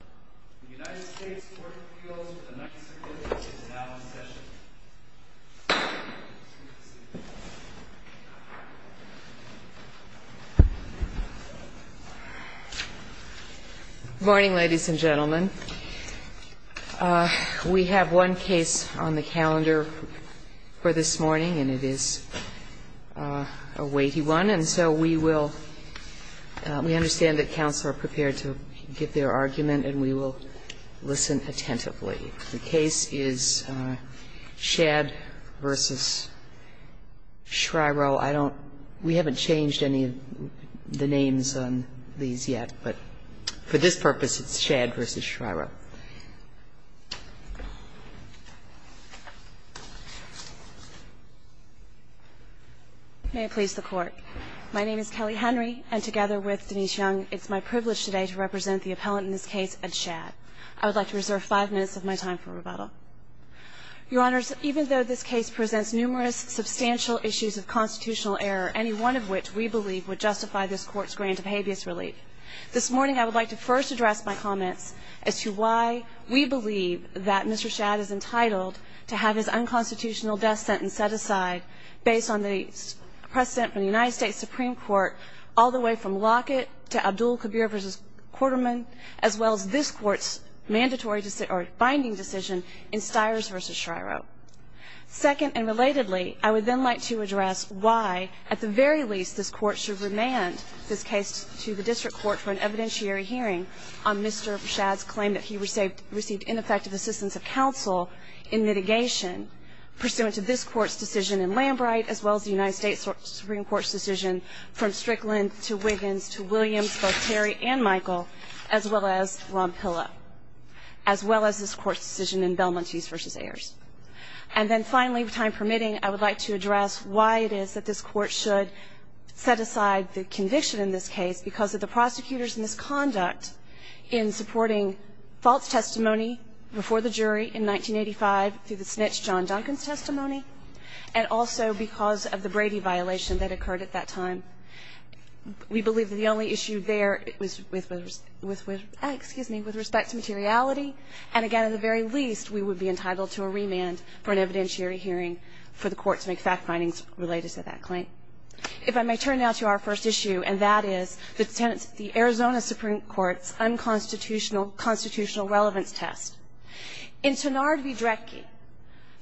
The United States Court of Appeals with an executive is now in session. Good morning, ladies and gentlemen. We have one case on the calendar for this morning, and it is a weighty one, and so we will – we understand that counsel are prepared to give their argument and we will listen attentively. The case is Shad v. Schriro. I don't – we haven't changed any of the names on these yet, but for this purpose it's Shad v. Schriro. May it please the Court. My name is Kelly Henry, and together with Denise Young, it's my privilege today to represent the appellant in this case at Shad. I would like to reserve 5 minutes of my time for rebuttal. Your Honors, even though this case presents numerous substantial issues of constitutional error, any one of which we believe would justify this Court's grant of habeas relief, this morning I would like to first address my comments as to why we believe that Mr. Shad is entitled to have his unconstitutional death sentence set aside based on the precedent from the United States Supreme Court all the way from Lockett to Abdul Kabir v. Quarterman, as well as this Court's binding decision in Stiers v. Schriro. Second, and relatedly, I would then like to address why, at the very least, this Court should remand this case to the District Court for an evidentiary hearing on Mr. Shad's claim that he received ineffective assistance of counsel in mitigation pursuant to this Court's decision in Lambright, as well as the United States Supreme Court's decision from Strickland to Wiggins to Williams, both Terry and Michael, as well as Ronpilla, as well as this Court's decision in Belmontese v. Ayers. And then finally, time permitting, I would like to address why it is that this Court should set aside the conviction in this case because of the prosecutor's misconduct in supporting false testimony before the jury in 1985 through the snitch John Duncan's testimony, and also because of the Brady violation that occurred at that time. We believe that the only issue there was with respect to materiality, and again, at the very least, we would be entitled to a remand for an evidentiary hearing for the Court to make fact findings related to that claim. If I may turn now to our first issue, and that is the Arizona Supreme Court's unconstitutional constitutional relevance test. In Tenard v. Dredge,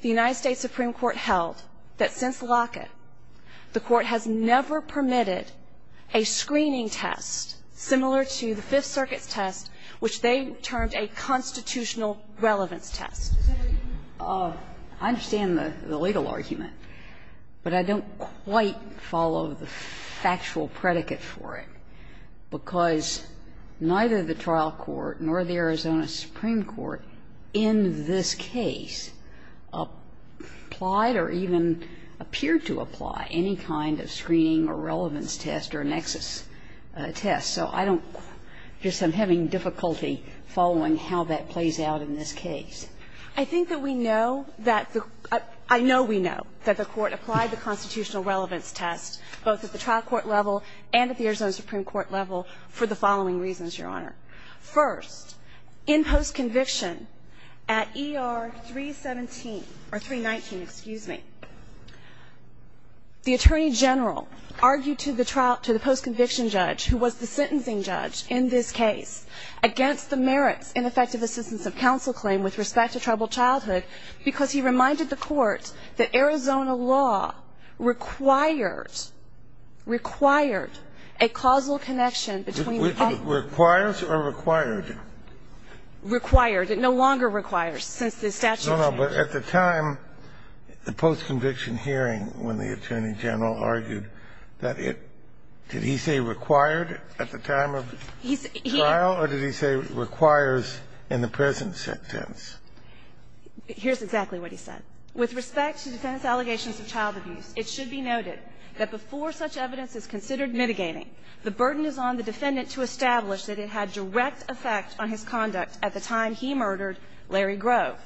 the United States Supreme Court held that since Lockett, the Court has never permitted a screening test similar to the Fifth Circuit's test, which they termed a constitutional relevance test. Ginsburg I understand the legal argument, but I don't quite follow the factual predicate for it, because neither the trial court nor the Arizona Supreme Court in this case applied or even appeared to apply any kind of screening or relevance test or nexus test. So I don't, I guess I'm having difficulty following how that plays out in this case. I think that we know that the, I know we know that the Court applied the constitutional relevance test, both at the trial court level and at the Arizona Supreme Court level, for the following reasons, Your Honor. First, in post-conviction at ER 317, or 319, excuse me, the Attorney General argued to the trial, to the post-conviction judge, who was the sentencing judge in this case, against the merits in effective assistance of counsel claim with respect to tribal childhood, because he reminded the Court that Arizona law required, required a causal connection between the two. It requires or required? Required. It no longer requires since the statute changed. No, no, but at the time, the post-conviction hearing when the Attorney General argued that it, did he say required at the time of trial, or did he say requires in the present sentence? Here's exactly what he said. With respect to defendant's allegations of child abuse, it should be noted that before such evidence is considered mitigating, the burden is on the defendant to establish that it had direct effect on his conduct at the time he murdered Larry Grove,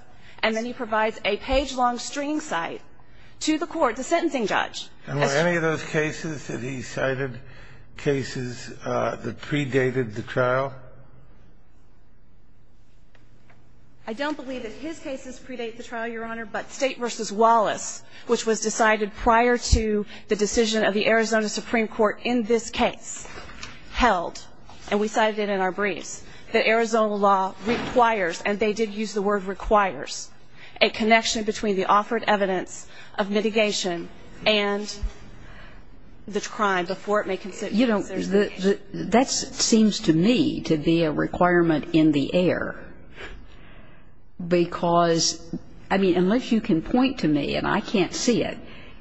and then he provides a page-long stringing cite to the court, the sentencing judge. And were any of those cases that he cited cases that predated the trial? I don't believe that his cases predate the trial, Your Honor, but State v. Wallace, which was decided prior to the decision of the Arizona Supreme Court in this case, held, and we cited it in our briefs, that Arizona law requires, and they did use the word, requires, a connection between the offered evidence of mitigation and the crime before it may consider mitigation. You know, that seems to me to be a requirement in the air, because, I mean, unless you can point to me, and I can't see it,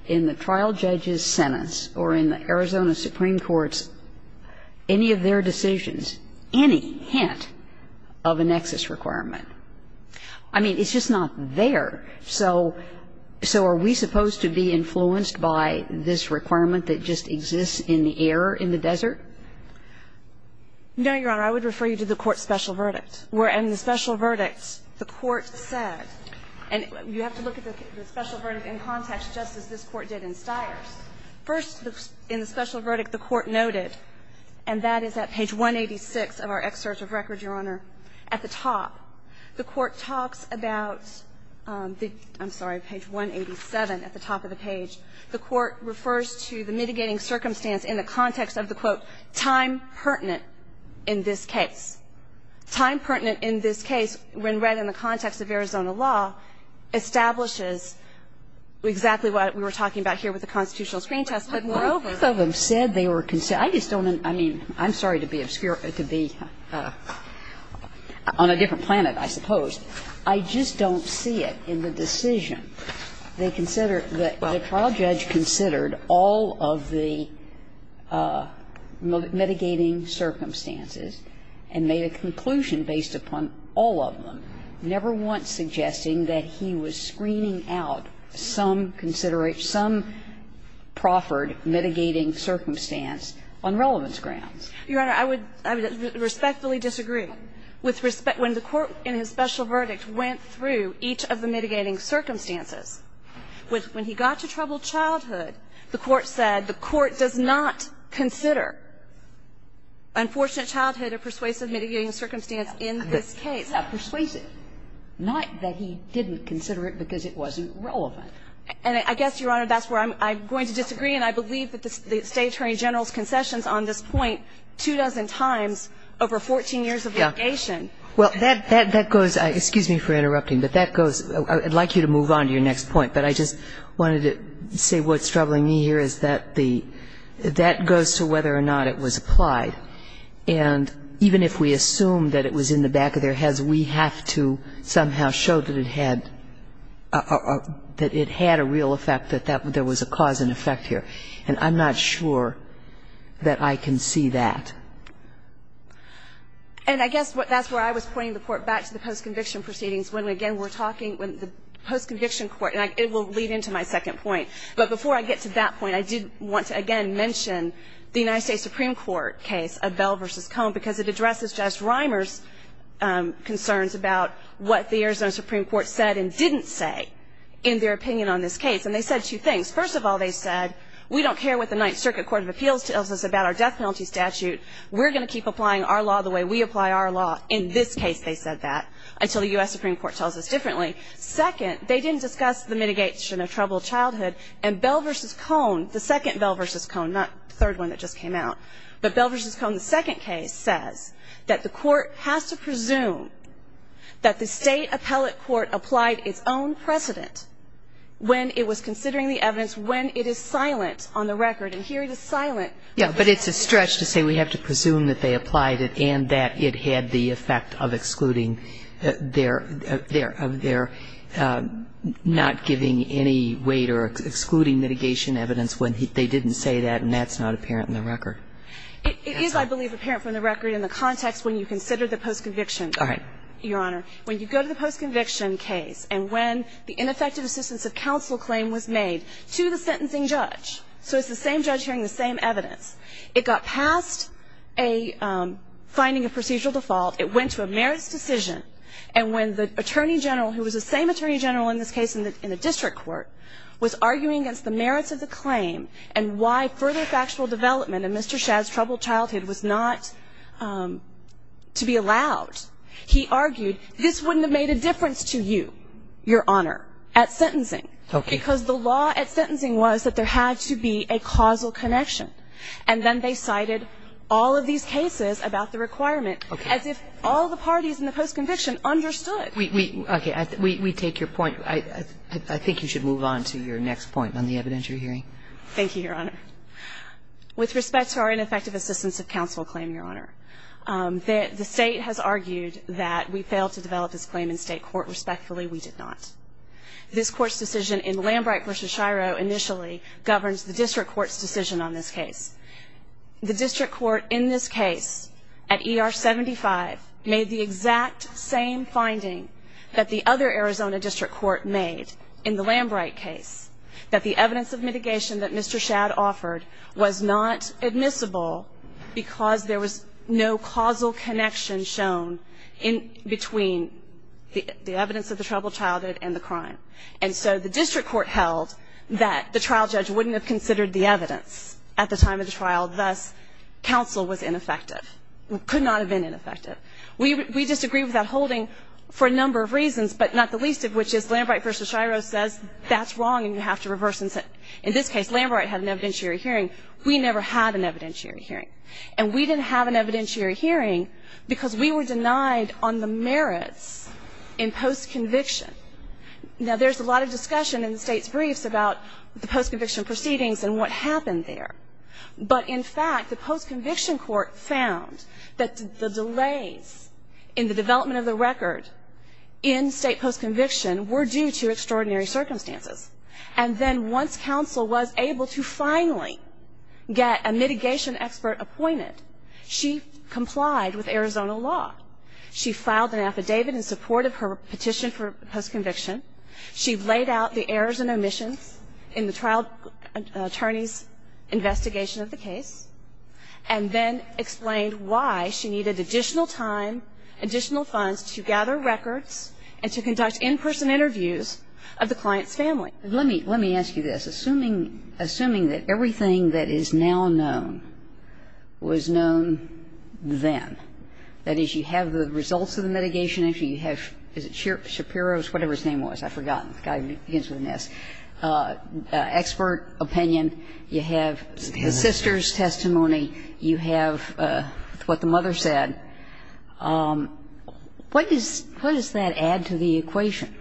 in the trial judge's sentence or in the Arizona Supreme Court's, any of their decisions, any hint of a nexus requirement. I mean, it's just not there. So are we supposed to be influenced by this requirement that just exists in the air, in the desert? No, Your Honor. I would refer you to the Court's special verdict, where in the special verdict, the Court said, and you have to look at the special verdict in context, just as this Court did in Stiers. First, in the special verdict, the Court noted, and that is at page 186 of our excerpt of record, Your Honor, at the top, the Court talks about the – I'm sorry, page 187 at the top of the page. The Court refers to the mitigating circumstance in the context of the, quote, time pertinent in this case. Time pertinent in this case, when read in the context of Arizona law, establishes exactly what we were talking about here with the constitutional screen test. But moreover – On a different planet, I suppose. I just don't see it in the decision. They consider – the trial judge considered all of the mitigating circumstances and made a conclusion based upon all of them, never once suggesting that he was screening out some considerate, some proffered mitigating circumstance on relevance grounds. Your Honor, I would respectfully disagree. With respect – when the Court in his special verdict went through each of the mitigating circumstances, when he got to troubled childhood, the Court said the Court does not consider unfortunate childhood a persuasive mitigating circumstance in this case. Now, persuasive. Not that he didn't consider it because it wasn't relevant. And I guess, Your Honor, that's where I'm going to disagree, and I believe that the over 14 years of litigation. Well, that goes – excuse me for interrupting, but that goes – I'd like you to move on to your next point, but I just wanted to say what's troubling me here is that the – that goes to whether or not it was applied. And even if we assume that it was in the back of their heads, we have to somehow show that it had a real effect, that there was a cause and effect here. And I'm not sure that I can see that. And I guess that's where I was pointing the Court back to the post-conviction proceedings, when, again, we're talking – when the post-conviction court – and it will lead into my second point. But before I get to that point, I did want to, again, mention the United States Supreme Court case of Bell v. Cohn, because it addresses Judge Reimer's concerns about what the Arizona Supreme Court said and didn't say in their opinion on this And they said two things. First of all, they said, we don't care what the Ninth Circuit Court of Appeals tells us about our death penalty statute. We're going to keep applying our law the way we apply our law in this case, they said that, until the U.S. Supreme Court tells us differently. Second, they didn't discuss the mitigation of troubled childhood. And Bell v. Cohn, the second Bell v. Cohn, not the third one that just came out, but Bell v. Cohn, the second case, says that the Court has to presume that the state appellate court applied its own precedent when it was considering the evidence when it is silent on the record. And here it is silent. Yeah, but it's a stretch to say we have to presume that they applied it and that it had the effect of excluding their, of their not giving any weight or excluding mitigation evidence when they didn't say that, and that's not apparent in the record. It is, I believe, apparent from the record in the context when you consider the post-conviction. All right. Your Honor, when you go to the post-conviction case and when the ineffective assistance of counsel claim was made to the sentencing judge, so it's the same judge hearing the same evidence, it got past a finding of procedural default. It went to a merits decision. And when the attorney general, who was the same attorney general in this case in the district court, was arguing against the merits of the claim and why further factual development in Mr. Shadd's troubled childhood was not to be allowed, he argued this wouldn't have made a difference to you, Your Honor, at sentencing. Okay. Because the law at sentencing was that there had to be a causal connection. And then they cited all of these cases about the requirement as if all the parties in the post-conviction understood. Okay. We take your point. I think you should move on to your next point on the evidentiary hearing. Thank you, Your Honor. With respect to our ineffective assistance of counsel claim, Your Honor, the State has argued that we failed to develop this claim in State court. Respectfully, we did not. This Court's decision in Lambright v. Shiro initially governs the district court's decision on this case. The district court in this case at ER 75 made the exact same finding that the other Arizona district court made in the Lambright case, that the evidence of mitigation that Mr. Shadd offered was not admissible because there was no causal connection shown between the evidence of the troubled childhood and the crime. And so the district court held that the trial judge wouldn't have considered the evidence at the time of the trial. Thus, counsel was ineffective. Could not have been ineffective. We disagree with that holding for a number of reasons, but not the least of which is Lambright v. Shiro says that's wrong and you have to reverse. In this case, Lambright had an evidentiary hearing. We never had an evidentiary hearing. And we didn't have an evidentiary hearing because we were denied on the merits in post-conviction. Now, there's a lot of discussion in the State's briefs about the post-conviction proceedings and what happened there. But, in fact, the post-conviction court found that the delays in the development of the record in State post-conviction were due to extraordinary circumstances. And then once counsel was able to finally get a mitigation expert appointed, she complied with Arizona law. She filed an affidavit in support of her petition for post-conviction. She laid out the errors and omissions in the trial attorney's investigation of the case and then explained why she needed additional time, additional funds to gather records and to conduct in-person interviews of the client's family. Let me ask you this. Assuming that everything that is now known was known then, that is, you have the results of the mitigation issue, you have Shapiro's, whatever his name was. I've forgotten. The guy begins with an S. Expert opinion. You have the sister's testimony. You have what the mother said. What does that add to the equation?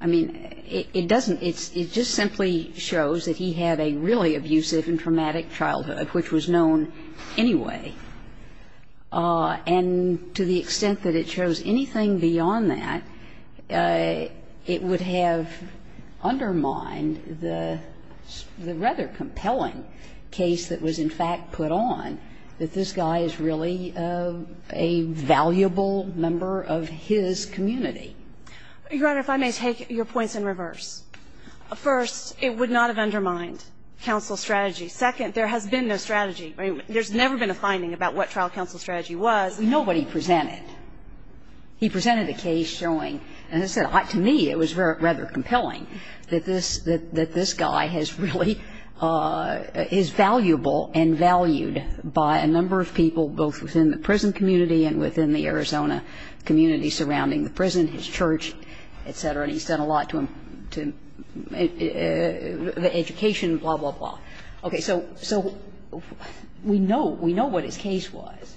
I mean, it doesn't. It just simply shows that he had a really abusive and traumatic childhood, which was known anyway. And to the extent that it shows anything beyond that, it would have undermined the rather compelling case that was, in fact, put on, that this guy is really a valuable member of his community. Your Honor, if I may take your points in reverse. First, it would not have undermined counsel's strategy. Second, there has been no strategy. I mean, there's never been a finding about what trial counsel's strategy was. We know what he presented. He presented a case showing, as I said, to me it was rather compelling that this guy has really is valuable and valued by a number of people both within the prison community and within the Arizona community surrounding the prison, his church, et cetera. And he's done a lot to the education, blah, blah, blah. Okay. So we know what his case was.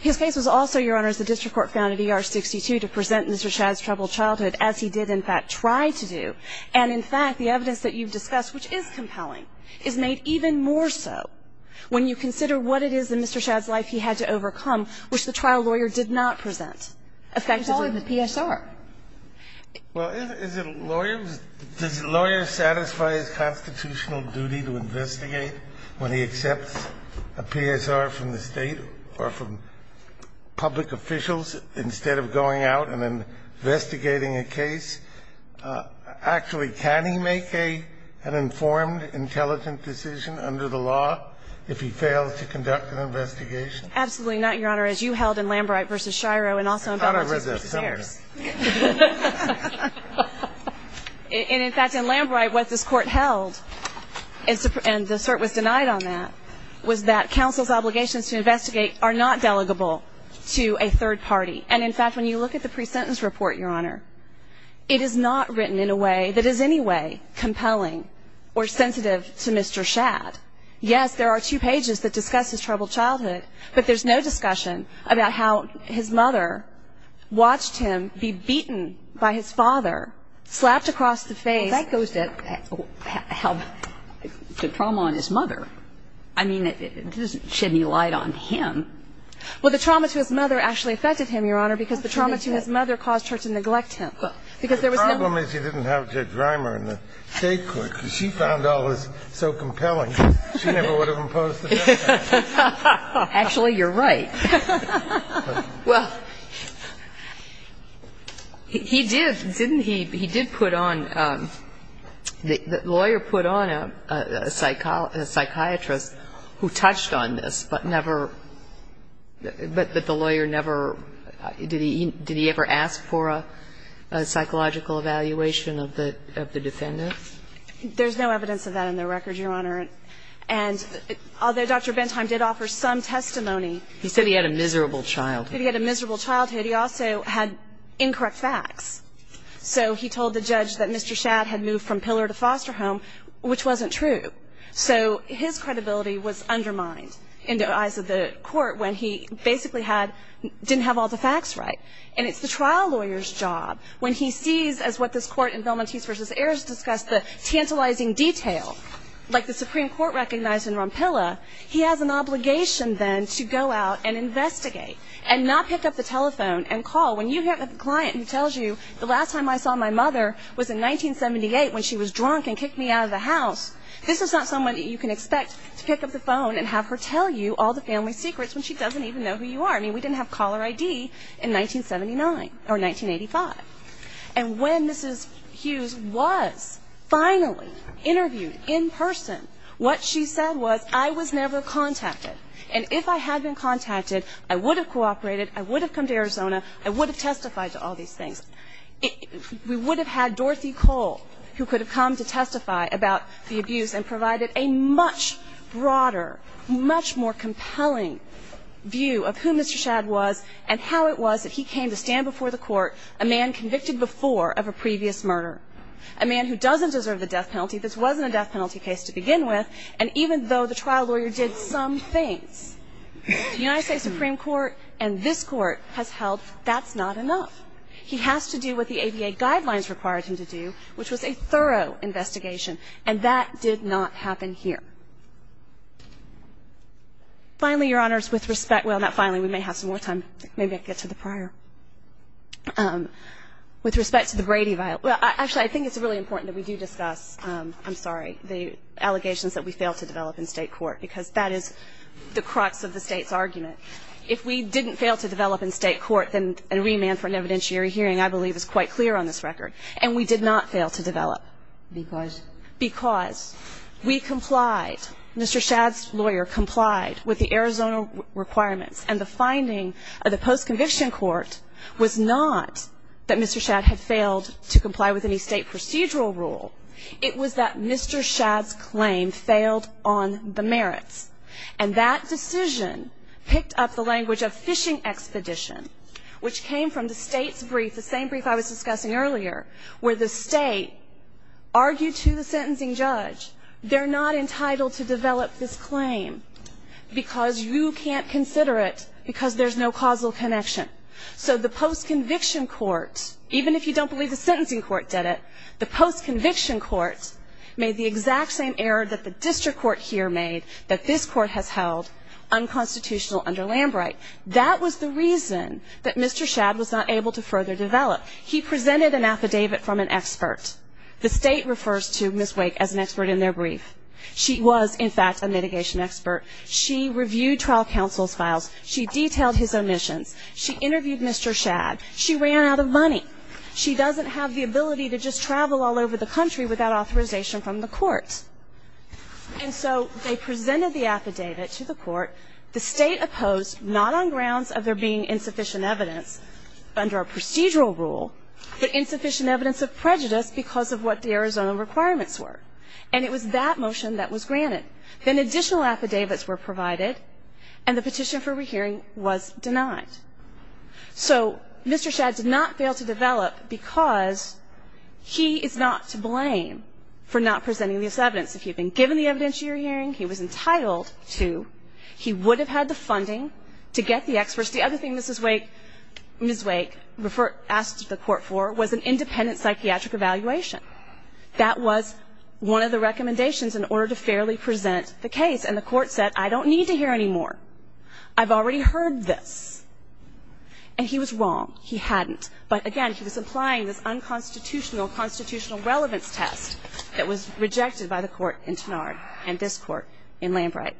His case was also, Your Honor, as the district court found in ER-62 to present Mr. Shad's troubled childhood, as he did, in fact, try to do. And, in fact, the evidence that you've discussed, which is compelling, is made even more so when you consider what it is in Mr. Shad's life he had to overcome, which the trial lawyer did not present, effective in the PSR. Well, is it a lawyer? Does a lawyer satisfy his constitutional duty to investigate when he accepts a PSR from the State or from public officials instead of going out and then investigating a case? Actually, can he make an informed, intelligent decision under the law if he fails to conduct an investigation? Absolutely not, Your Honor, as you held in Lambright v. Shiro and also in Battles of the Spurs. I thought I read that somewhere. And, in fact, in Lambright, what this court held, and the cert was denied on that, was that counsel's obligations to investigate are not delegable to a third party. And, in fact, when you look at the pre-sentence report, Your Honor, it is not written in a way that is any way compelling or sensitive to Mr. Shad. Yes, there are two pages that discuss his troubled childhood, but there's no discussion about how his mother watched him be beaten by his father, slapped across the face. Well, that goes to trauma on his mother. I mean, it doesn't shed any light on him. Well, the trauma to his mother actually affected him, Your Honor, because the trauma to his mother caused her to neglect him. The problem is you didn't have Judge Reimer in the State court, because she found all this so compelling. She never would have imposed the sentence. Actually, you're right. Well, he did, didn't he? He did put on the lawyer put on a psychiatrist who touched on this, but never did he ever ask for a psychological evaluation of the defendant? There's no evidence of that in the record, Your Honor. And although Dr. Bentheim did offer some testimony. He said he had a miserable childhood. He said he had a miserable childhood. He also had incorrect facts. So he told the judge that Mr. Shad had moved from pillar to foster home, which wasn't true. So his credibility was undermined in the eyes of the court when he basically didn't have all the facts right. And it's the trial lawyer's job when he sees, as what this court in Velmontese v. Ayers discussed, the tantalizing detail. Like the Supreme Court recognized in Rompilla, he has an obligation then to go out and investigate and not pick up the telephone and call. When you have a client who tells you the last time I saw my mother was in 1978 when she was drunk and kicked me out of the house, this is not someone you can expect to pick up the phone and have her tell you all the family secrets when she doesn't even know who you are. I mean, we didn't have caller ID in 1979 or 1985. And when Mrs. Hughes was finally interviewed in person, what she said was, I was never contacted. And if I had been contacted, I would have cooperated, I would have come to Arizona, I would have testified to all these things. We would have had Dorothy Cole who could have come to testify about the abuse and provided a much broader, much more compelling view of who Mr. Shadd was and how it was that he came to stand before the court, a man convicted before of a previous murder, a man who doesn't deserve the death penalty. This wasn't a death penalty case to begin with. And even though the trial lawyer did some things, the United States Supreme Court and this Court has held that's not enough. He has to do what the ABA guidelines required him to do, which was a thorough investigation. And that did not happen here. Finally, Your Honors, with respect to the Brady violence, well, actually, I think it's really important that we do discuss, I'm sorry, the allegations that we failed to develop in state court because that is the crux of the State's argument. If we didn't fail to develop in state court, then a remand for an evidentiary hearing, I believe, is quite clear on this record. And we did not fail to develop. Because? Because we complied. Mr. Shadd's lawyer complied with the Arizona requirements. And the finding of the post-conviction court was not that Mr. Shadd had failed to comply with any state procedural rule. It was that Mr. Shadd's claim failed on the merits. And that decision picked up the language of fishing expedition, which came from the State's brief, the same brief I was discussing earlier, where the State argued to the sentencing judge, they're not entitled to develop this claim because you can't consider it because there's no causal connection. So the post-conviction court, even if you don't believe the sentencing court did it, the post-conviction court made the exact same error that the district court here made, that this court has held unconstitutional under Lambright. That was the reason that Mr. Shadd was not able to further develop. He presented an affidavit from an expert. The State refers to Ms. Wake as an expert in their brief. She was, in fact, a mitigation expert. She reviewed trial counsel's files. She detailed his omissions. She interviewed Mr. Shadd. She ran out of money. She doesn't have the ability to just travel all over the country without authorization from the court. And so they presented the affidavit to the court. The State opposed, not on grounds of there being insufficient evidence under a procedural rule, but insufficient evidence of prejudice because of what the Arizona requirements were. And it was that motion that was granted. Then additional affidavits were provided, and the petition for rehearing was denied. So Mr. Shadd did not fail to develop because he is not to blame for not presenting this evidence. If he had been given the evidence you're hearing, he was entitled to. He would have had the funding to get the experts. The other thing Ms. Wake asked the court for was an independent psychiatric evaluation. That was one of the recommendations in order to fairly present the case. And the court said, I don't need to hear any more. I've already heard this. And he was wrong. He hadn't. But, again, he was applying this unconstitutional constitutional relevance test that was rejected by the court in Tenard and this court in Lambright.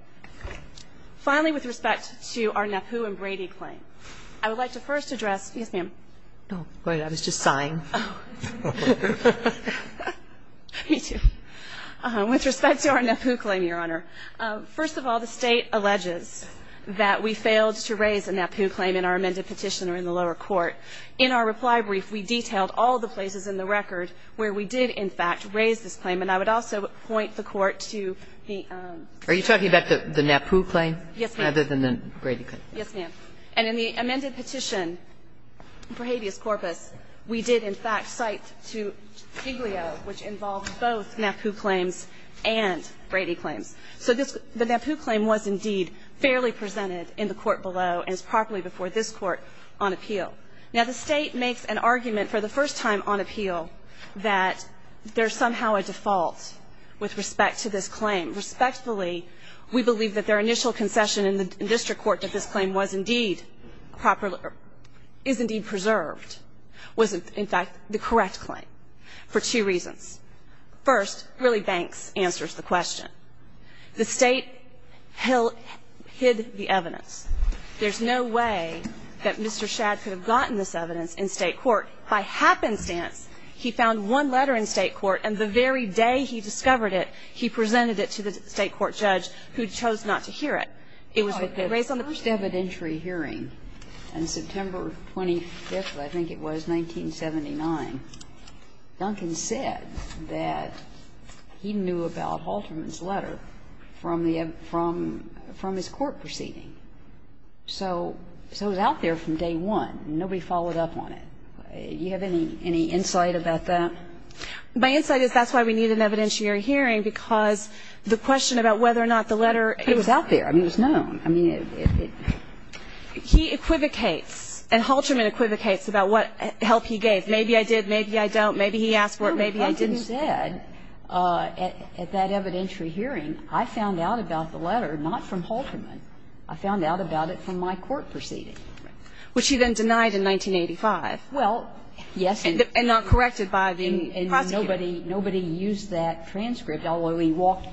Finally, with respect to our NAPU and Brady claim, I would like to first address Yes, ma'am. Oh, go ahead. I was just sighing. Oh. Me too. With respect to our NAPU claim, Your Honor, first of all, the State alleges that we failed to raise a NAPU claim in our amended petitioner in the lower court. And I would also point the Court to the Are you talking about the NAPU claim? Yes, ma'am. Other than the Brady claim. Yes, ma'am. And in the amended petition for habeas corpus, we did in fact cite to Giglio, which involved both NAPU claims and Brady claims. So this the NAPU claim was indeed fairly presented in the court below and is properly before this Court on appeal. Now, the State makes an argument for the first time on appeal that there's somehow a default with respect to this claim. Respectfully, we believe that their initial concession in the district court that this claim was indeed properly or is indeed preserved was in fact the correct claim for two reasons. First, really Banks answers the question. The State hid the evidence. There's no way that Mr. Shadd could have gotten this evidence in State court. By happenstance, he found one letter in State court, and the very day he discovered it, he presented it to the State court judge who chose not to hear it. It was the first evidentiary hearing in September 25th, I think it was, 1979. Duncan said that he knew about Halterman's letter from the event, from his court proceeding. So it was out there from day one. Nobody followed up on it. Do you have any insight about that? My insight is that's why we need an evidentiary hearing, because the question about whether or not the letter was out there, I mean, it was known. He equivocates, and Halterman equivocates about what help he gave. Maybe I did, maybe I don't. Maybe he asked for it, maybe I didn't. No, but Duncan said at that evidentiary hearing, I found out about the letter not from Halterman, I found out about it from my court proceeding. Right. Which he then denied in 1985. Well, yes. And not corrected by the prosecutor. And nobody used that transcript, although he walked,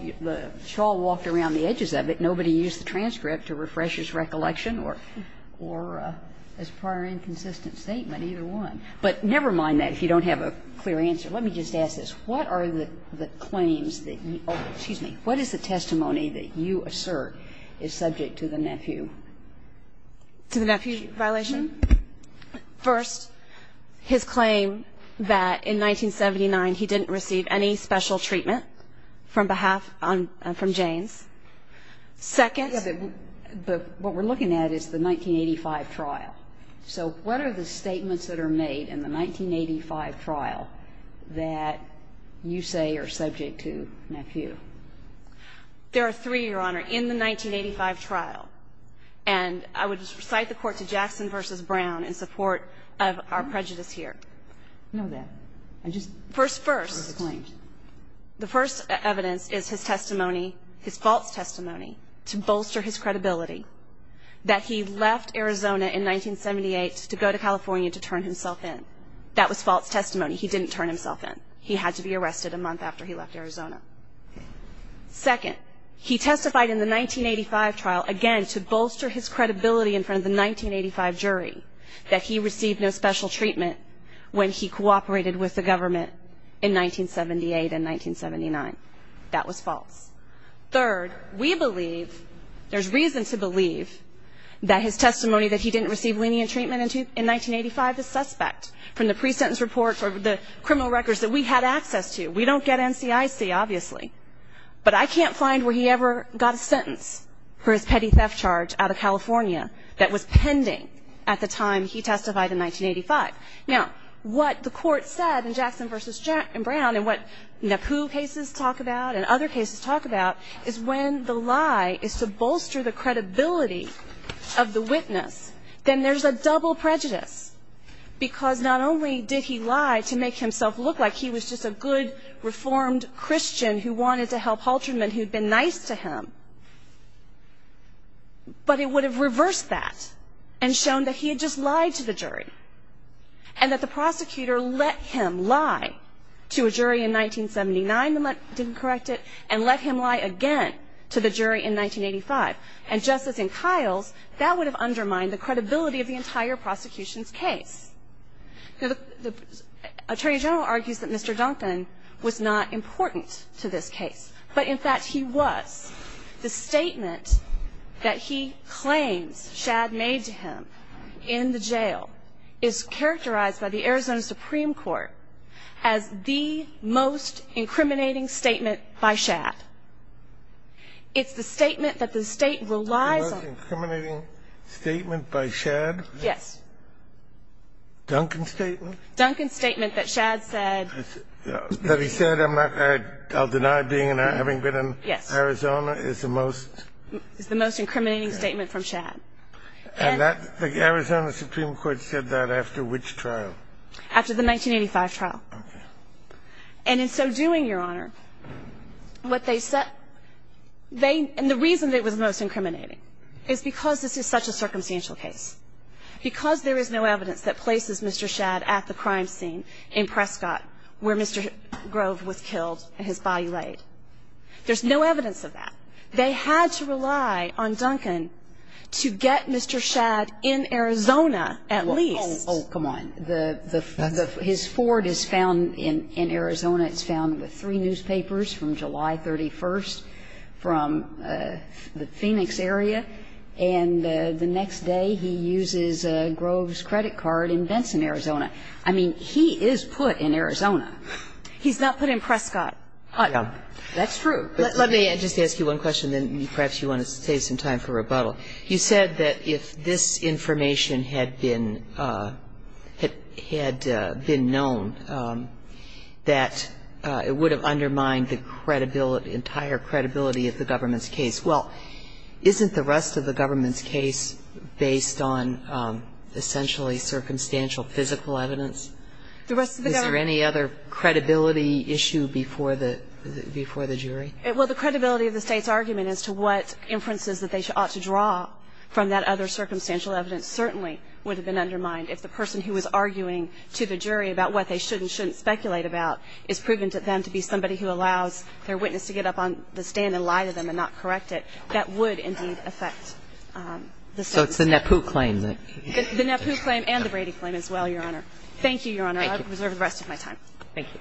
Shaw walked around the edges of it, nobody used the transcript to refresh his recollection or as a prior inconsistent statement, either one. But never mind that if you don't have a clear answer. Let me just ask this. What are the claims that you, excuse me, what is the testimony that you assert is subject to the nephew? To the nephew violation? First, his claim that in 1979 he didn't receive any special treatment from behalf on, from Janes. Second. Yes, but what we're looking at is the 1985 trial. So what are the statements that are made in the 1985 trial that you say are subject to nephew? There are three, Your Honor, in the 1985 trial. And I would cite the court to Jackson v. Brown in support of our prejudice here. No doubt. I just. First, first. The first evidence is his testimony, his false testimony to bolster his credibility that he left Arizona in 1978 to go to California to turn himself in. That was false testimony. He didn't turn himself in. He had to be arrested a month after he left Arizona. Second. He testified in the 1985 trial again to bolster his credibility in front of the 1985 jury that he received no special treatment when he cooperated with the government in 1978 and 1979. That was false. Third. We believe, there's reason to believe that his testimony that he didn't receive lenient treatment in 1985 is suspect from the pre-sentence report or the criminal records that we had access to. We don't get NCIC, obviously. But I can't find where he ever got a sentence for his petty theft charge out of California that was pending at the time he testified in 1985. Now, what the court said in Jackson v. Brown and what Nepu cases talk about and other cases talk about is when the lie is to bolster the credibility of the witness, then there's a double prejudice. Because not only did he lie to make himself look like he was just a good, reformed Christian who wanted to help haltermen who had been nice to him, but it would have reversed that and shown that he had just lied to the jury and that the prosecutor let him lie to a jury in 1979 the month he didn't correct it and let him lie again to the jury in 1985. And just as in Kiles, that would have undermined the credibility of the entire prosecution's case. Now, the Attorney General argues that Mr. Duncan was not important to this case. But, in fact, he was. The statement that he claims Shad made to him in the jail is characterized by the fact that the Arizona Supreme Court has the most incriminating statement by Shad. It's the statement that the State relies on. The most incriminating statement by Shad? Yes. Duncan's statement? Duncan's statement that Shad said. That he said, I'll deny being and having been in Arizona, is the most? Is the most incriminating statement from Shad. And that the Arizona Supreme Court said that after which trial? After the 1985 trial. Okay. And in so doing, Your Honor, what they said they and the reason it was most incriminating is because this is such a circumstantial case. Because there is no evidence that places Mr. Shad at the crime scene in Prescott where Mr. Grove was killed and his body laid. There's no evidence of that. They had to rely on Duncan to get Mr. Shad in Arizona at least. Oh, come on. His Ford is found in Arizona. It's found with three newspapers from July 31st from the Phoenix area. And the next day he uses Grove's credit card in Benson, Arizona. I mean, he is put in Arizona. He's not put in Prescott. That's true. Let me just ask you one question, then perhaps you want to save some time for rebuttal. You said that if this information had been known, that it would have undermined the credibility, entire credibility of the government's case. Well, isn't the rest of the government's case based on essentially circumstantial physical evidence? The rest of the government? Is there any other credibility issue before the jury? Well, the credibility of the State's argument as to what inferences that they ought to draw from that other circumstantial evidence certainly would have been undermined if the person who was arguing to the jury about what they should and shouldn't speculate about is proven to them to be somebody who allows their witness to get up on the stand and lie to them and not correct it. That would indeed affect the State. So it's the NAPU claim. The NAPU claim and the Brady claim as well, Your Honor. Thank you, Your Honor. I reserve the rest of my time. Thank you.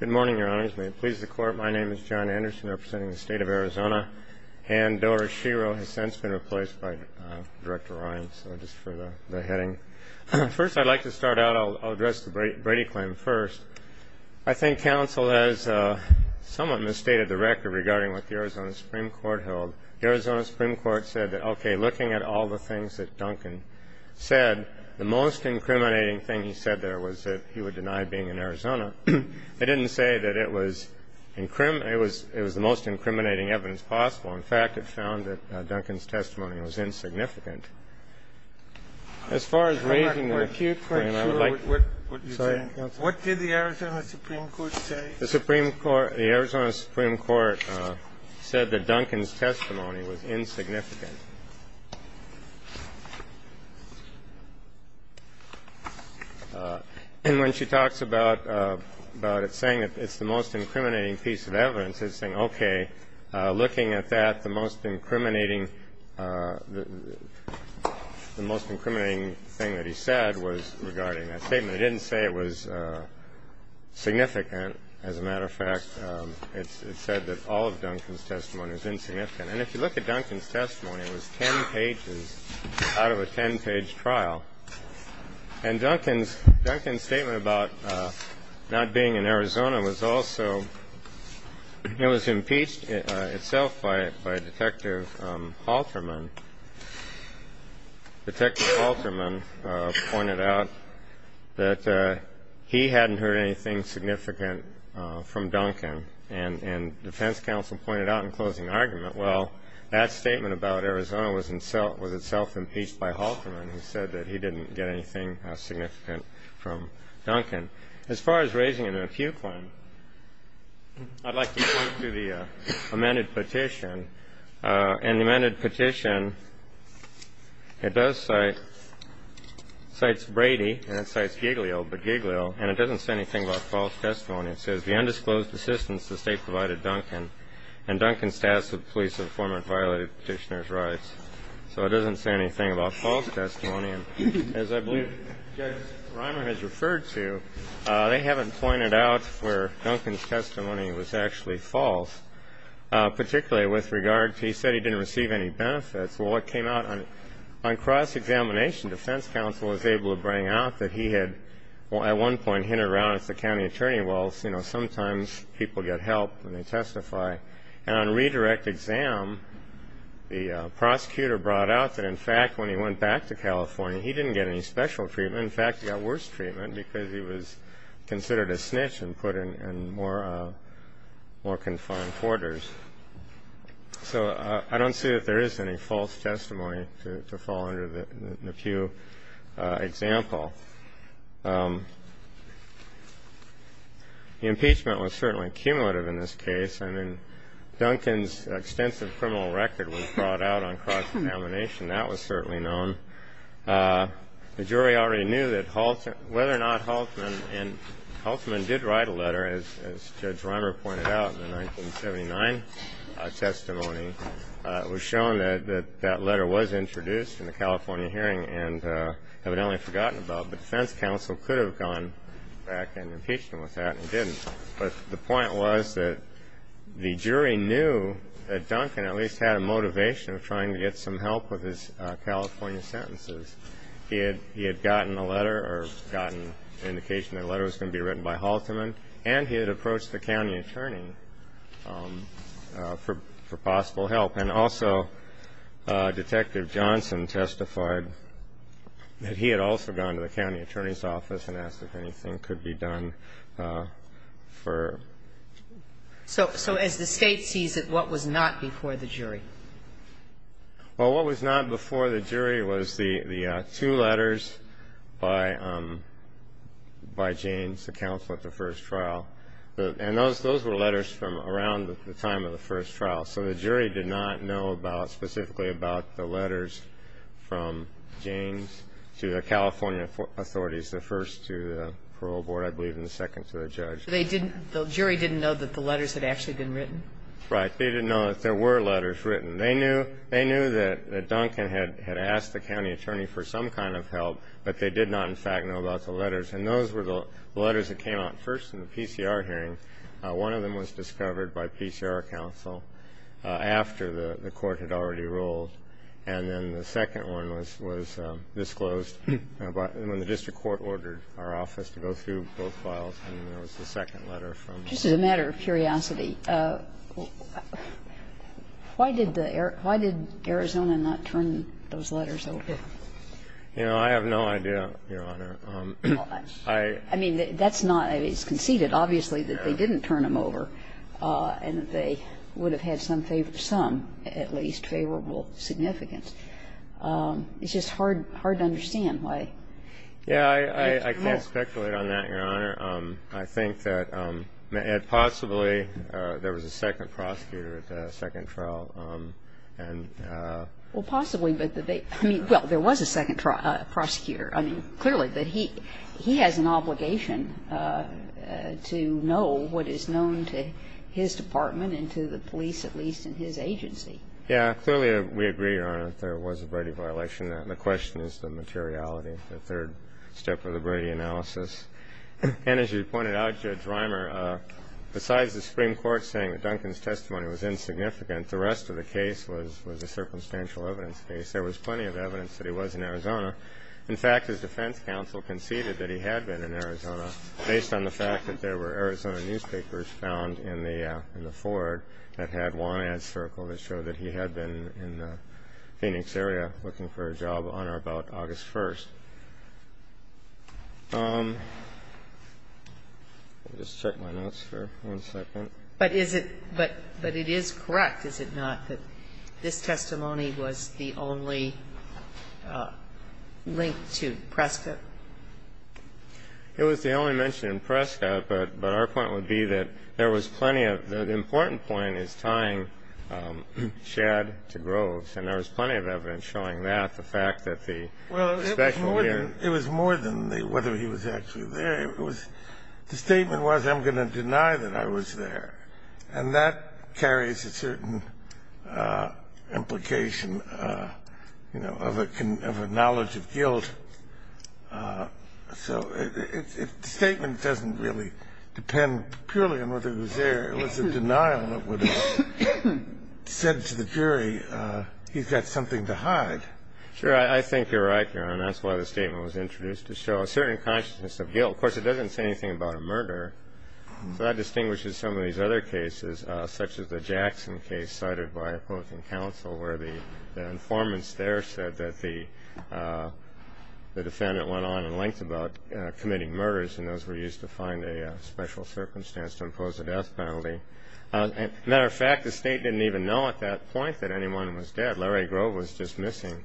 Good morning, Your Honors. May it please the Court, my name is John Anderson representing the State of Arizona and Doris Shiro has since been replaced by Director Ryan, so just for the heading. First, I'd like to start out, I'll address the Brady claim first. I think counsel has somewhat misstated the record regarding what the Arizona Supreme Court held. The Arizona Supreme Court said that, okay, looking at all the things that Duncan said, the most incriminating thing he said there was that he would deny being in Arizona. I didn't say that it was the most incriminating evidence possible. In fact, it found that Duncan's testimony was insignificant. As far as raising the refute claim, I would like to say. What did the Arizona Supreme Court say? The Arizona Supreme Court said that Duncan's testimony was insignificant. And when she talks about it saying it's the most incriminating piece of evidence, it's saying, okay, looking at that, the most incriminating thing that he said was regarding that statement. It didn't say it was significant. As a matter of fact, it said that all of Duncan's testimony was insignificant. And if you look at Duncan's testimony, it was ten pages out of a ten-page trial. And Duncan's statement about not being in Arizona was also, it was impeached itself by Detective Halterman. Detective Halterman pointed out that he hadn't heard anything significant from Duncan. And defense counsel pointed out in closing argument, well, that statement about Arizona was itself impeached by Halterman, who said that he didn't get anything significant from Duncan. As far as raising a refute claim, I'd like to point to the amended petition. And the amended petition, it does cite, cites Brady, and it cites Giglio, but Giglio, and it doesn't say anything about false testimony. It says, the undisclosed assistance the State provided Duncan and Duncan's status with the police of the former violated petitioner's rights. So it doesn't say anything about false testimony. And as I believe Judge Reimer has referred to, they haven't pointed out where Duncan's testimony was actually false, particularly with regard to he said he didn't receive any benefits. Well, what came out on cross-examination, defense counsel was able to bring out that he had at one point hinted around as the county attorney, well, sometimes people get help when they testify. And on redirect exam, the prosecutor brought out that, in fact, when he went back to California, he didn't get any special treatment. In fact, he got worse treatment because he was considered a snitch and put in more confined quarters. So I don't see that there is any false testimony to fall under the Pew example. The impeachment was certainly cumulative in this case. I mean, Duncan's extensive criminal record was brought out on cross-examination. That was certainly known. The jury already knew that whether or not Haltman, and Haltman did write a letter, as Judge Reimer pointed out, in the 1979 testimony was shown that that letter was introduced in the California hearing and evidently forgotten about. But defense counsel could have gone back and impeached him with that, and he didn't. But the point was that the jury knew that Duncan at least had a motivation of trying to get some help with his California sentences. He had gotten a letter or gotten indication that a letter was going to be written by Haltman, and he had approached the county attorney for possible help. And also, Detective Johnson testified that he had also gone to the county attorney's office and asked if anything could be done for. So as the State sees it, what was not before the jury? Well, what was not before the jury was the two letters by James, the counsel at the first trial. And those were letters from around the time of the first trial. So the jury did not know specifically about the letters from James to the California authorities, the first to the parole board, I believe, and the second to the judge. The jury didn't know that the letters had actually been written? Right. They didn't know that there were letters written. They knew that Duncan had asked the county attorney for some kind of help, but they did not, in fact, know about the letters. And those were the letters that came out first in the PCR hearing. One of them was discovered by PCR counsel after the court had already ruled, and then the second one was disclosed when the district court ordered our office to go through both files, and then there was the second letter from the court. Just as a matter of curiosity, why did Arizona not turn those letters over? You know, I have no idea, Your Honor. I mean, it's conceded, obviously, that they didn't turn them over, and that they would have had some, at least, favorable significance. It's just hard to understand why. Yeah, I can't speculate on that, Your Honor. I think that possibly there was a second prosecutor at the second trial. Well, possibly, but there was a second prosecutor. I mean, clearly, he has an obligation to know what is known to his department and to the police, at least, and his agency. Yeah, clearly we agree, Your Honor, that there was a Brady violation. And as you pointed out, Judge Reimer, besides the Supreme Court saying that Duncan's testimony was insignificant, the rest of the case was a circumstantial evidence case. There was plenty of evidence that he was in Arizona. In fact, his defense counsel conceded that he had been in Arizona, based on the fact that there were Arizona newspapers found in the Ford that had one ad circle that showed that he had been in the Phoenix area looking for a job on or about August 1st. Let me just check my notes for one second. But is it ñ but it is correct, is it not, that this testimony was the only link to Prescott? It was the only mention in Prescott, but our point would be that there was plenty of ñ the important point is tying Shadd to Groves, and there was plenty of evidence showing that, the fact that the special lawyeró Well, it was more than whether he was actually there. It was ñ the statement was, I'm going to deny that I was there. And that carries a certain implication, you know, of a knowledge of guilt. So the statement doesn't really depend purely on whether he was there. It was a denial that would have said to the jury, he's got something to hide. Sure. I think you're right, Your Honor. That's why the statement was introduced, to show a certain consciousness of guilt. Of course, it doesn't say anything about a murder. So that distinguishes some of these other cases, such as the Jackson case cited by opposing counsel, where the informants there said that the defendant went on in length about committing murders, and those were used to find a special circumstance to impose a death penalty. As a matter of fact, the State didn't even know at that point that anyone was dead. Larry Grove was just missing.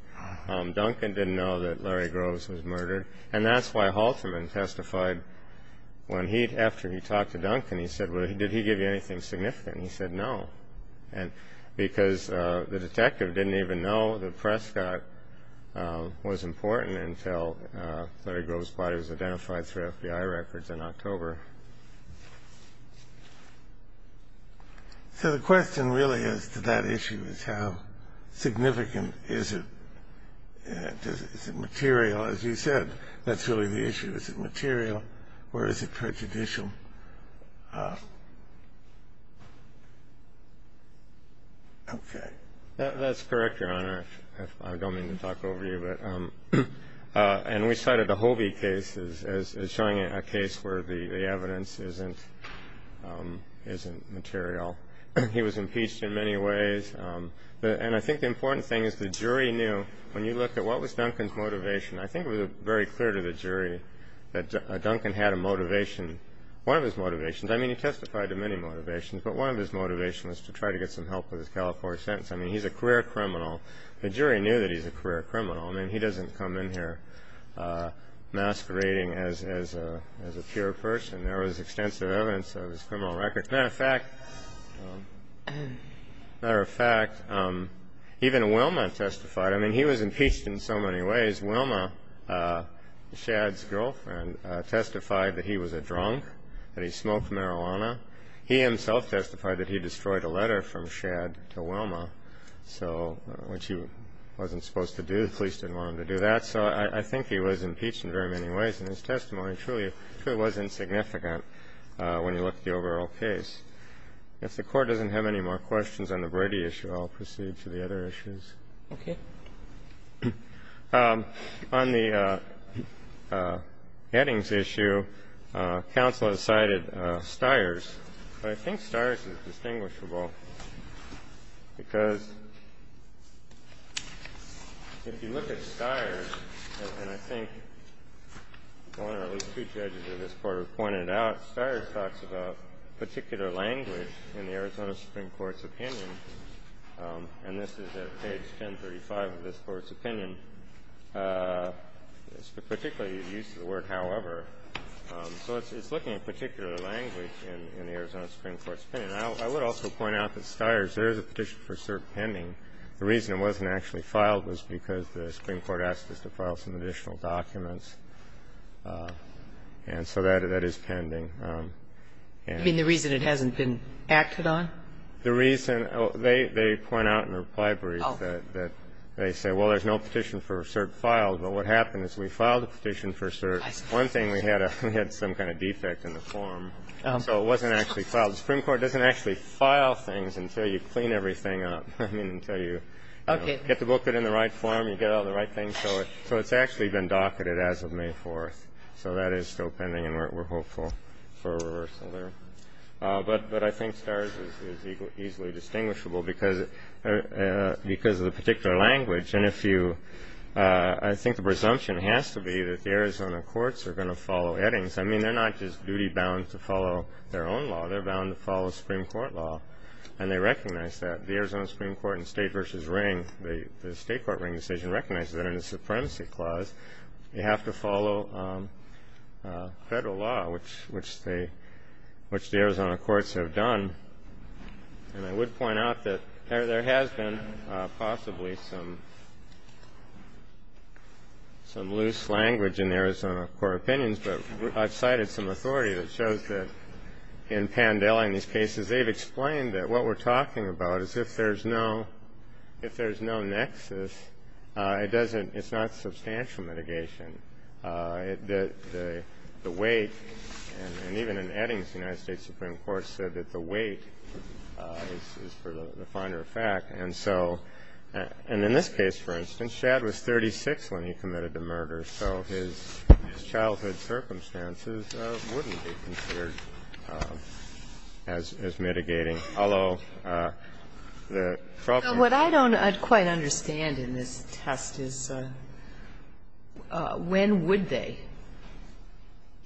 Duncan didn't know that Larry Groves was murdered. And that's why Halterman testified when he, after he talked to Duncan, he said, well, did he give you anything significant? He said no, because the detective didn't even know that Prescott was important until Larry Grove's body was identified through FBI records in October. So the question really as to that issue is how significant is it? Is it material? As you said, that's really the issue. Is it material, or is it prejudicial? Okay. That's correct, Your Honor, if I don't mean to talk over you. And we cited the Hobie case as showing a case where the evidence isn't material. He was impeached in many ways. And I think the important thing is the jury knew. When you look at what was Duncan's motivation, I think it was very clear to the jury that Duncan had a motivation. One of his motivations, I mean, he testified to many motivations, but one of his motivations was to try to get some help with his California sentence. I mean, he's a career criminal. The jury knew that he's a career criminal. I mean, he doesn't come in here masquerading as a pure person. There was extensive evidence of his criminal record. As a matter of fact, even Wilma testified. I mean, he was impeached in so many ways. Wilma, Shad's girlfriend, testified that he was a drunk, that he smoked marijuana. So what she wasn't supposed to do, the police didn't want him to do that. So I think he was impeached in very many ways. And his testimony truly was insignificant when you look at the overall case. If the Court doesn't have any more questions on the Brady issue, I'll proceed to the other issues. Okay. On the Eddings issue, counsel has cited Stiers. I think Stiers is distinguishable because if you look at Stiers, and I think one or at least two judges of this Court have pointed out, Stiers talks about particular language in the Arizona Supreme Court's opinion, and this is at page 1035 of this Court's opinion. It's particularly used to the word however. So it's looking at particular language in the Arizona Supreme Court's opinion. I would also point out that Stiers, there is a petition for cert pending. The reason it wasn't actually filed was because the Supreme Court asked us to file some additional documents, and so that is pending. And the reason it hasn't been acted on? The reason they point out in the reply brief that they say, well, there's no petition for cert filed. But what happened is we filed a petition for cert. One thing, we had some kind of defect in the form. So it wasn't actually filed. The Supreme Court doesn't actually file things until you clean everything up. I mean, until you get the booklet in the right form, you get all the right things. So it's actually been docketed as of May 4th. So that is still pending and we're hopeful for a reversal there. But I think Stiers is easily distinguishable because of the particular language. I think the presumption has to be that the Arizona courts are going to follow Eddings. I mean, they're not just duty-bound to follow their own law. They're bound to follow Supreme Court law, and they recognize that. The Arizona Supreme Court in state versus ring, the state court ring decision recognizes that in the supremacy clause you have to follow federal law, which the Arizona courts have done. And I would point out that there has been possibly some loose language in Arizona court opinions, but I've cited some authority that shows that in Pandela and these cases, they've explained that what we're talking about is if there's no nexus, it's not substantial mitigation. And the weight, and even in Eddings, the United States Supreme Court said that the weight is for the finer effect. And so, and in this case, for instance, Shad was 36 when he committed the murder, so his childhood circumstances wouldn't be considered as mitigating, although the problem was... When would they?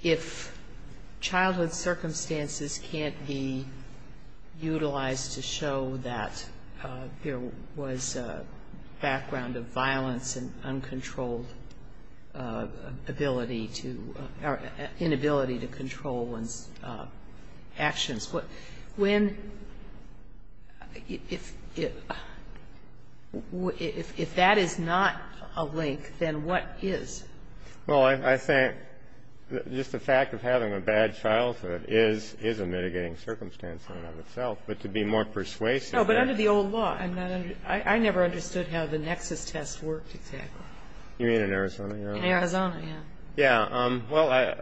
If childhood circumstances can't be utilized to show that there was a background of violence and uncontrolled ability to, or inability to control one's actions. When, if that is not a link, then what is? Well, I think just the fact of having a bad childhood is a mitigating circumstance in and of itself. But to be more persuasive... No, but under the old law, I never understood how the nexus test worked exactly. You mean in Arizona, Your Honor? In Arizona, yeah. Yeah, well,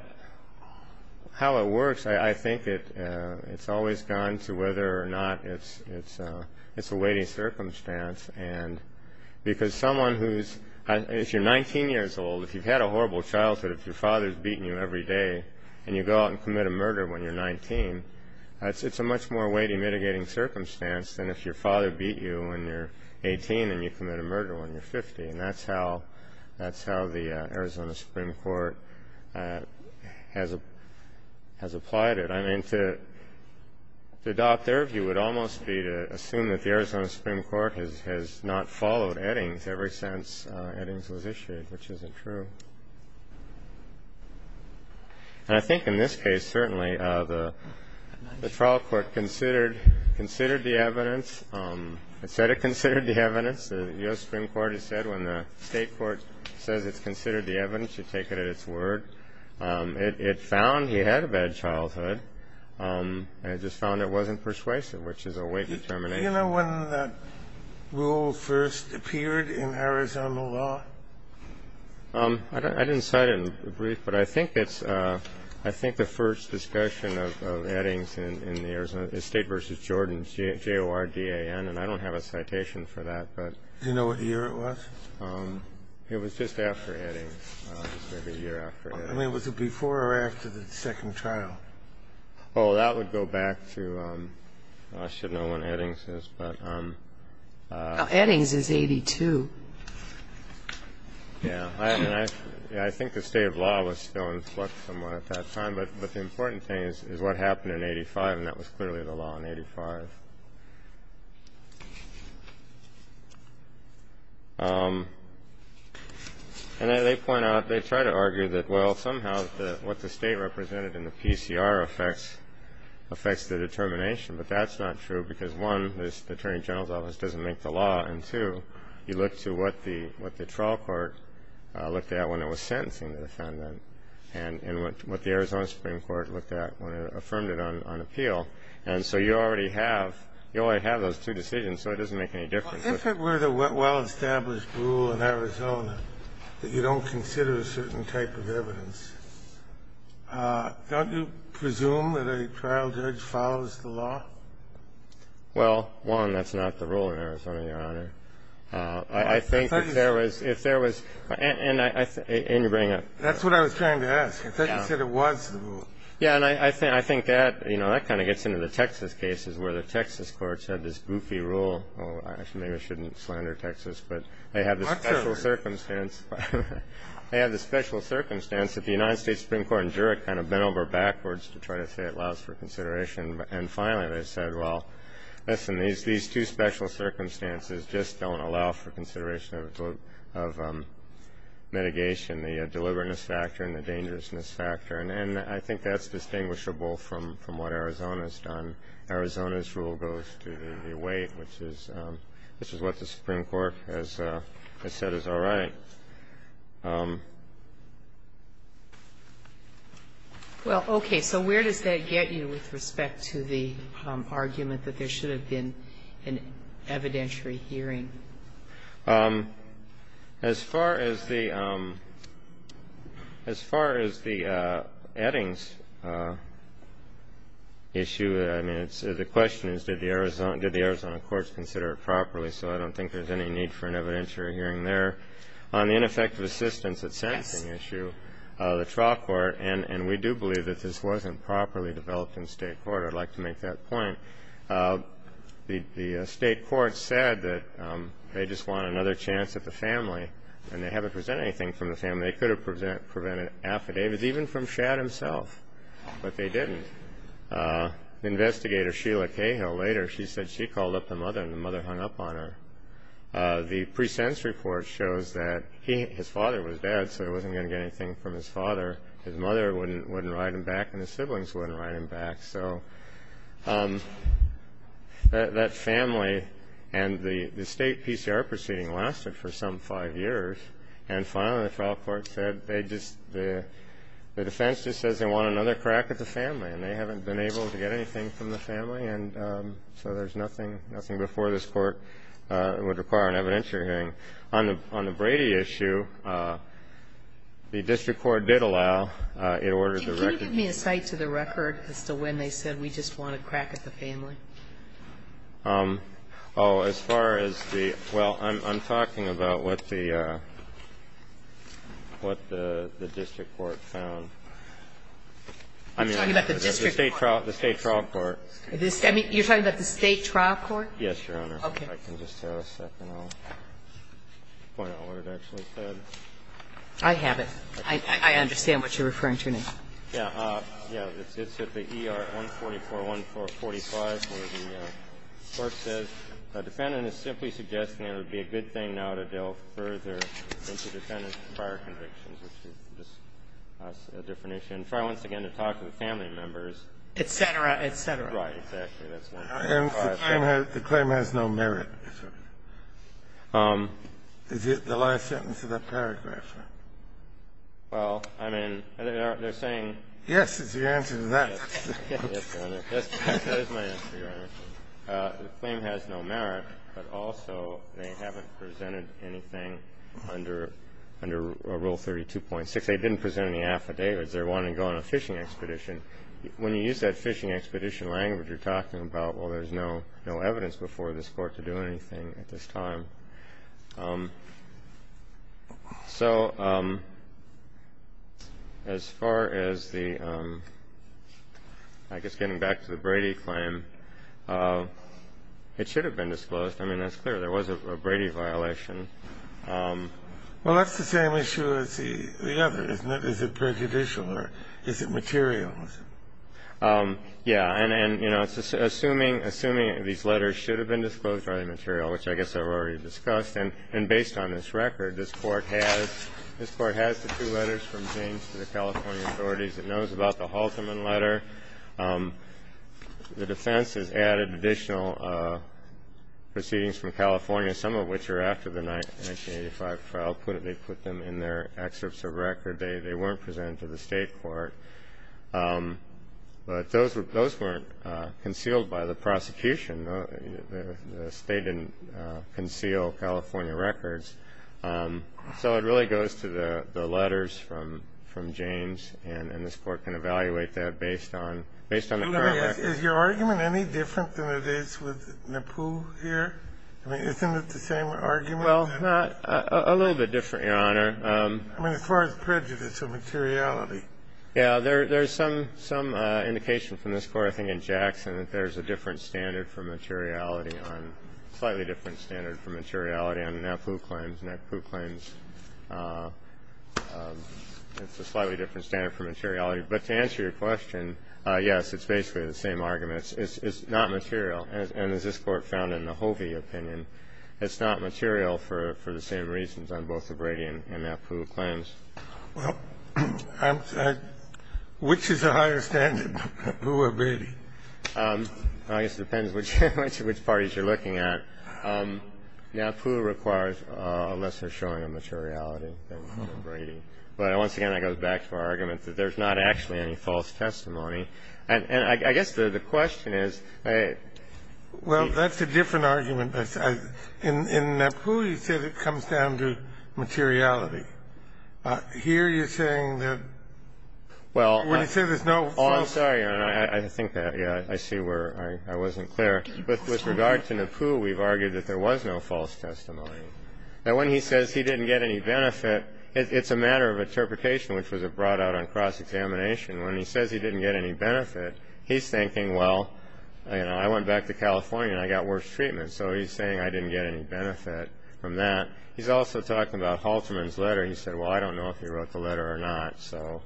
how it works, I think it's always gone to whether or not it's a weighting circumstance. And because someone who's... If you're 19 years old, if you've had a horrible childhood, if your father's beaten you every day and you go out and commit a murder when you're 19, it's a much more weighty mitigating circumstance than if your father beat you when you're 18 and you commit a murder when you're 50. And that's how the Arizona Supreme Court has applied it. I mean, to adopt their view would almost be to assume that the Arizona Supreme Court has not followed Eddings ever since Eddings was issued, which isn't true. And I think in this case, certainly, the trial court considered the evidence. It said it considered the evidence. As the U.S. Supreme Court has said, when the state court says it's considered the evidence, you take it at its word. It found he had a bad childhood. It just found it wasn't persuasive, which is a weight determination. Do you know when that rule first appeared in Arizona law? I didn't cite it in the brief, but I think it's the first discussion of Eddings in the Arizona State v. Jordan, J-O-R-D-A-N. And I don't have a citation for that, but. Do you know what year it was? It was just after Eddings. It was maybe a year after Eddings. I mean, was it before or after the second trial? Oh, that would go back to, I should know when Eddings is, but. Eddings is 82. Yeah. I think the state of law was still in flux somewhat at that time. But the important thing is what happened in 85, and that was clearly the law in 85. And they point out, they try to argue that, well, somehow what the state represented in the PCR affects the determination, but that's not true because, one, the Attorney General's Office doesn't make the law, and, two, you look to what the trial court looked at when it was sentencing the defendant and what the Arizona Supreme Court looked at when it affirmed it on appeal. And so you already have, you already have those two decisions, so it doesn't make any difference. If it were the well-established rule in Arizona that you don't consider a certain type of evidence, don't you presume that a trial judge follows the law? Well, one, that's not the rule in Arizona, Your Honor. I think if there was, if there was, and you bring up. That's what I was trying to ask. I thought you said it was the rule. Yeah, and I think that, you know, that kind of gets into the Texas cases where the Texas courts had this goofy rule. Well, actually, maybe I shouldn't slander Texas, but they had this special circumstance. They had this special circumstance that the United States Supreme Court in Jurek kind of bent over backwards to try to say it allows for consideration. And finally they said, well, listen, these two special circumstances just don't allow for consideration of mitigation, the deliberateness factor and the dangerousness factor. And I think that's distinguishable from what Arizona has done. Arizona's rule goes to the weight, which is what the Supreme Court has said is all right. Well, okay, so where does that get you with respect to the argument that there should have been an evidentiary hearing? As far as the Eddings issue, I mean, the question is did the Arizona courts consider it properly, so I don't think there's any need for an evidentiary hearing there. On the ineffective assistance at sentencing issue, the trial court, and we do believe that this wasn't properly developed in state court, I'd like to make that point. The state court said that they just want another chance at the family, and they haven't presented anything from the family. They could have presented affidavits even from Shadd himself, but they didn't. Investigator Sheila Cahill later, she said she called up the mother and the mother hung up on her. The pre-sense report shows that his father was dead, so he wasn't going to get anything from his father. His mother wouldn't write him back, and his siblings wouldn't write him back. So that family and the state PCR proceeding lasted for some five years, and finally the trial court said they just, the defense just says they want another crack at the family, and they haven't been able to get anything from the family, and so there's nothing before this court would require an evidentiary hearing. On the Brady issue, the district court did allow, it ordered the record. Can you give me a cite to the record as to when they said we just want a crack at the family? Oh, as far as the, well, I'm talking about what the district court found. I'm talking about the district court. The state trial court. You're talking about the state trial court? Yes, Your Honor. Okay. If I can just have a second, I'll point out what it actually said. I have it. I understand what you're referring to now. Yeah. Yeah. It's at the ER-144-1445 where the court says the defendant is simply suggesting it would be a good thing now to delve further into defendant's prior convictions, which is just a different issue. And try once again to talk to the family members. Et cetera, et cetera. Right. Exactly. And the claim has no merit. Is it the last sentence of that paragraph? Well, I mean, they're saying yes is the answer to that. Yes, Your Honor. That is my answer, Your Honor. The claim has no merit, but also they haven't presented anything under Rule 32.6. They didn't present any affidavits. They're wanting to go on a fishing expedition. When you use that fishing expedition language, you're talking about, well, there's no evidence before this court to do anything at this time. So as far as the, I guess, getting back to the Brady claim, it should have been disclosed. I mean, that's clear. There was a Brady violation. Well, that's the same issue as the other, isn't it? Is it prejudicial or is it material? Yeah. And, you know, assuming these letters should have been disclosed by the material, which I guess I've already discussed, and based on this record, this Court has the two letters from James to the California authorities. It knows about the Halteman letter. The defense has added additional proceedings from California, some of which are after the 1985 trial. They put them in their excerpts of record. They weren't presented to the State court. But those weren't concealed by the prosecution. The State didn't conceal California records. So it really goes to the letters from James, and this Court can evaluate that based on the current record. Is your argument any different than it is with Napoo here? I mean, isn't it the same argument? Well, not a little bit different, Your Honor. I mean, as far as prejudice or materiality. Yeah. There's some indication from this Court, I think, in Jackson, that there's a different standard for materiality on ñ slightly different standard for materiality on Napoo claims. Napoo claims, it's a slightly different standard for materiality. But to answer your question, yes, it's basically the same argument. It's not material. And as this Court found in the Hovey opinion, it's not material for the same reasons on both the Brady and Napoo claims. Well, I'm ñ which is a higher standard, Napoo or Brady? I guess it depends which parties you're looking at. Napoo requires a lesser showing of materiality than Brady. But once again, that goes back to our argument that there's not actually any false testimony. And I guess the question is ñ Well, that's a different argument. In Napoo, you said it comes down to materiality. Here you're saying that ñ Well ñ When you say there's no false ñ Oh, I'm sorry. I think that ñ yeah, I see where I wasn't clear. But with regard to Napoo, we've argued that there was no false testimony. Now, when he says he didn't get any benefit, it's a matter of interpretation, which was brought out on cross-examination. When he says he didn't get any benefit, he's thinking, well, you know, I went back to California and I got worse treatment. So he's saying I didn't get any benefit from that. He's also talking about Halterman's letter. He said, well, I don't know if he wrote the letter or not. So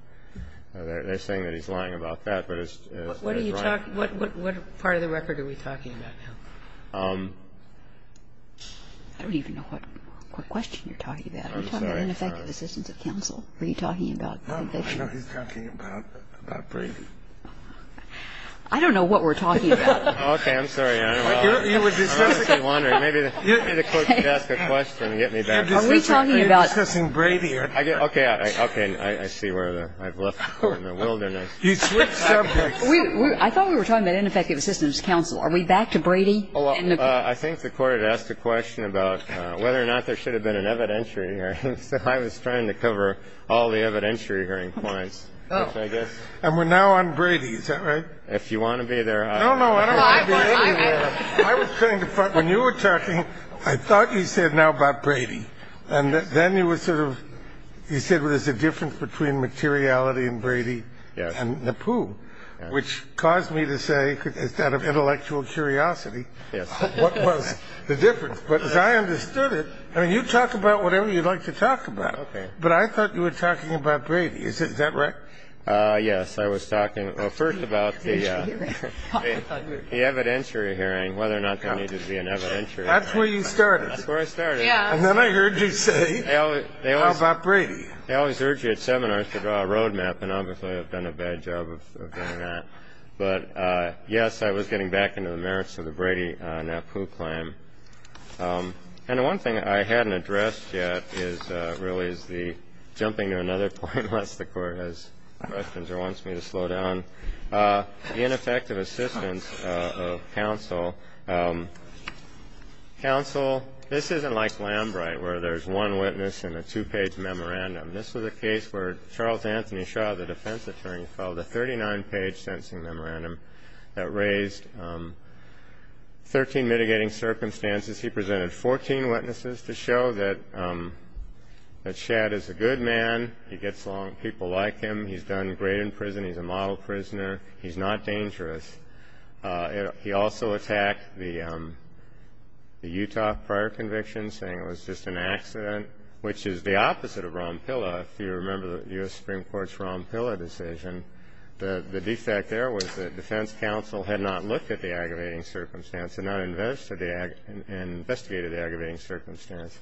they're saying that he's lying about that. But it's ñ What are you talking ñ what part of the record are we talking about now? I don't even know what question you're talking about. I'm sorry. We're talking about ineffective assistance of counsel. What are you talking about? I don't know. I know he's talking about Brady. I don't know what we're talking about. Okay. I'm sorry. I don't know. You were discussing ñ I was just wondering. Maybe the Court could ask a question and get me back. Are we talking about ñ You're discussing Brady. Okay. Okay. I see where I've left the board in the wilderness. You switched subjects. I thought we were talking about ineffective assistance of counsel. Are we back to Brady? I think the Court had asked a question about whether or not there should have been an evidentiary hearing. So I was trying to cover all the evidentiary hearing points, which I guess ñ And we're now on Brady. Is that right? If you want to be there ñ I don't know. I don't want to be anywhere. I was trying to find ñ when you were talking, I thought you said now about Brady. And then you were sort of ñ you said there's a difference between materiality and Brady and the Pooh, which caused me to say, out of intellectual curiosity, what was the difference. But as I understood it, I mean, you talk about whatever you'd like to talk about. Okay. But I thought you were talking about Brady. Is that right? Yes. I was talking first about the ñ The evidentiary hearing, whether or not there needed to be an evidentiary hearing. That's where you started. That's where I started. Yes. And then I heard you say, how about Brady? They always urge you at seminars to draw a roadmap, and obviously I've done a bad job of doing that. But, yes, I was getting back into the merits of the Brady-Napoo claim. And the one thing I hadn't addressed yet is ñ really is the jumping to another point, unless the Court has questions or wants me to slow down. The ineffective assistance of counsel. Counsel, this isn't like Lambright, where there's one witness and a two-page memorandum. This was a case where Charles Anthony Shaw, the defense attorney, filed a 39-page sentencing memorandum that raised 13 mitigating circumstances. He presented 14 witnesses to show that Shad is a good man. He gets along with people like him. He's done great in prison. He's a model prisoner. He's not dangerous. He also attacked the Utah prior conviction, saying it was just an accident, which is the opposite of ROMPILA. If you remember the U.S. Supreme Court's ROMPILA decision, the defect there was that defense counsel had not looked at the aggravating circumstance and investigated the aggravating circumstance.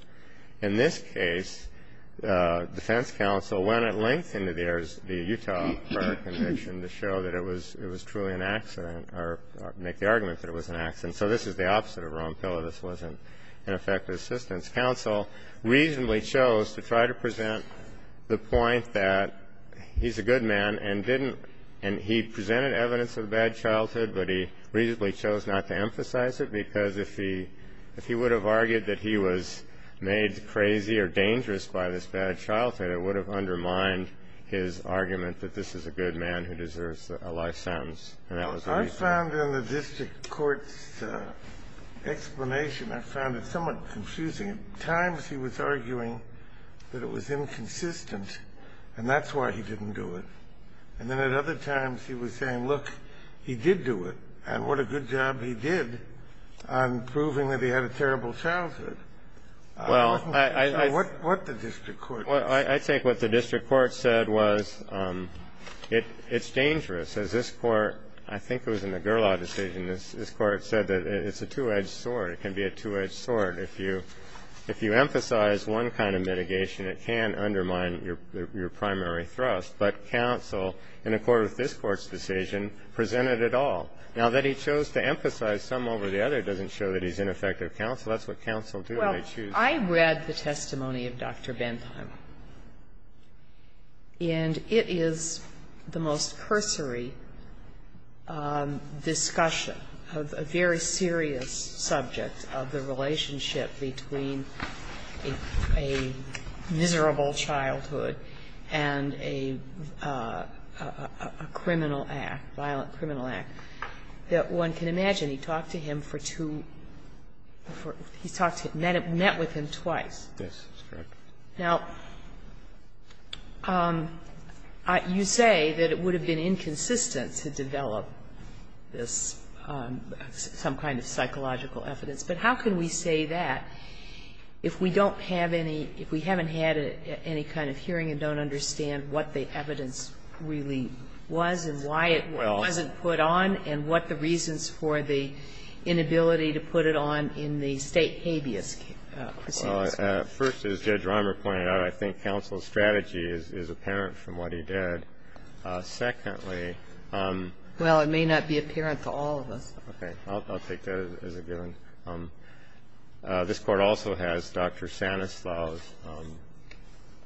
In this case, defense counsel went at length into the Utah prior conviction to show that it was truly an accident or make the argument that it was an accident. So this is the opposite of ROMPILA. This wasn't ineffective assistance. Counsel reasonably chose to try to present the point that he's a good man and didn't ñ and he presented evidence of a bad childhood, but he reasonably chose not to emphasize it because if he would have argued that he was made crazy or dangerous by this bad childhood, it would have undermined his argument that this is a good man who deserves a life sentence. And that was the reason. I found in the district court's explanation, I found it somewhat confusing. At times he was arguing that it was inconsistent, and that's why he didn't do it. And then at other times he was saying, look, he did do it, and what a good job he did on proving that he had a terrible childhood. I wasn't sure what the district court said. Well, I think what the district court said was it's dangerous. As this Court, I think it was in the Gerlau decision, this Court said that it's a two-edged sword. It can be a two-edged sword. If you emphasize one kind of mitigation, it can undermine your primary thrust. But counsel, in accord with this Court's decision, presented it all. Now, that he chose to emphasize some over the other doesn't show that he's ineffective counsel. That's what counsel do when they choose. Well, I read the testimony of Dr. Bentheim, and it is the most cursory discussion of a very serious subject of the relationship between a miserable childhood and a criminal act, violent criminal act, that one can imagine he talked to him for two, he met with him twice. Yes, that's correct. Now, you say that it would have been inconsistent to develop this, some kind of psychological evidence. But how can we say that if we don't have any, if we haven't had any kind of hearing and don't understand what the evidence really was and why it wasn't put on and what the reasons for the inability to put it on in the State habeas proceedings were? Well, first, as Judge Reimer pointed out, I think counsel's strategy is apparent from what he did. Secondly ---- Well, it may not be apparent to all of us. Okay. I'll take that as a given. This court also has Dr. Sanislaw's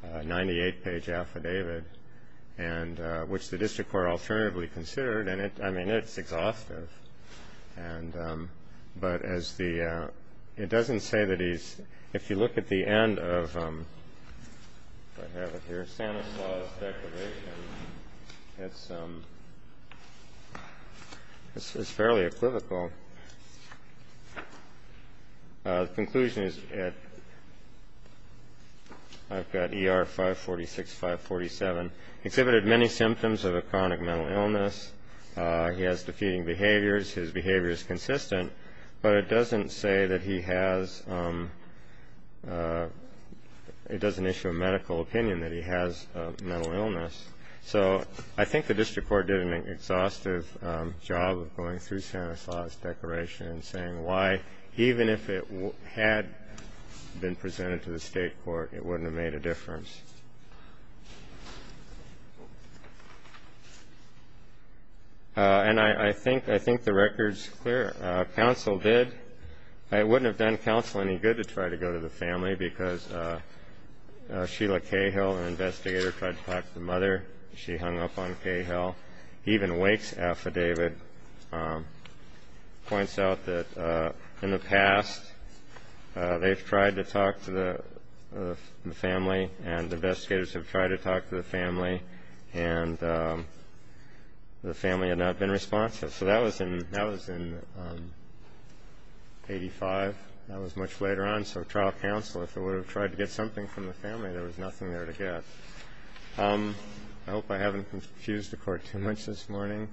98-page affidavit, which the district court alternatively considered. And, I mean, it's exhaustive. But it doesn't say that he's ---- if you look at the end of, if I have it here, Dr. Sanislaw's declaration, it's fairly equivocal. The conclusion is, I've got ER 546, 547. Exhibited many symptoms of a chronic mental illness. He has defeating behaviors. His behavior is consistent. But it doesn't say that he has ---- it doesn't issue a medical opinion that he has a mental illness. So I think the district court did an exhaustive job of going through Sanislaw's declaration and saying why, even if it had been presented to the state court, it wouldn't have made a difference. And I think the record's clear. Counsel did. It wouldn't have done counsel any good to try to go to the family because Sheila Cahill, an investigator, tried to talk to the mother. She hung up on Cahill. Even Wake's affidavit points out that in the past they've tried to talk to the family and investigators have tried to talk to the family and the family had not been responsive. So that was in 85. That was much later on. So trial counsel, if it would have tried to get something from the family, there was nothing there to get. I hope I haven't confused the court too much this morning.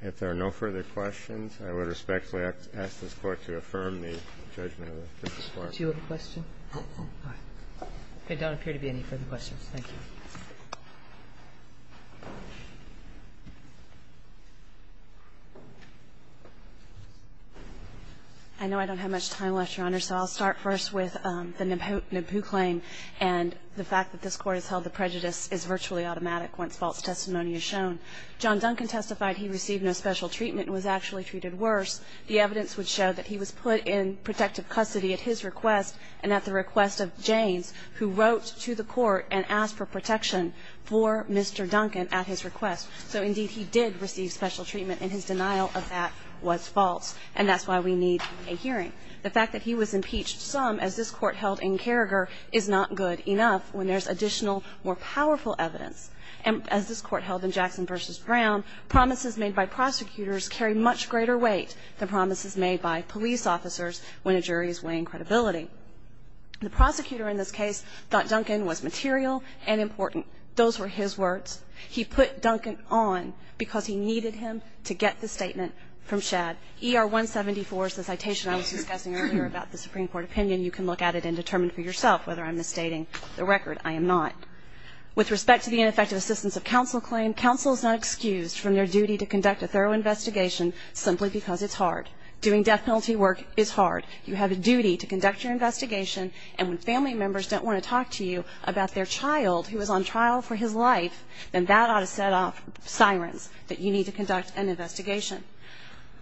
If there are no further questions, I would respectfully ask this Court to affirm the judgment of Justice Clark. Do you have a question? All right. There don't appear to be any further questions. Thank you. I know I don't have much time left, Your Honor, so I'll start first with the Nabu claim and the fact that this Court has held the prejudice is virtually automatic once false testimony is shown. John Duncan testified he received no special treatment and was actually treated worse. The evidence would show that he was put in protective custody at his request and at the request of Janes, who wrote to the court and asked for protection for Mr. Duncan at his request. So, indeed, he did receive special treatment and his denial of that was false, and that's why we need a hearing. The fact that he was impeached some, as this Court held in Carragher, is not good enough when there's additional, more powerful evidence. And as this Court held in Jackson v. Brown, promises made by prosecutors carry much greater weight than promises made by police officers when a jury is weighing credibility. The prosecutor in this case thought Duncan was material and important. Those were his words. He put Duncan on because he needed him to get the statement from Shadd. ER 174 is the citation I was discussing earlier about the Supreme Court opinion. You can look at it and determine for yourself whether I'm misstating the record. I am not. With respect to the ineffective assistance of counsel claim, counsel is not excused from their duty to conduct a thorough investigation simply because it's hard. Doing death penalty work is hard. You have a duty to conduct your investigation, and when family members don't want to talk to you about their child, who is on trial for his life, then that ought to set off sirens that you need to conduct an investigation.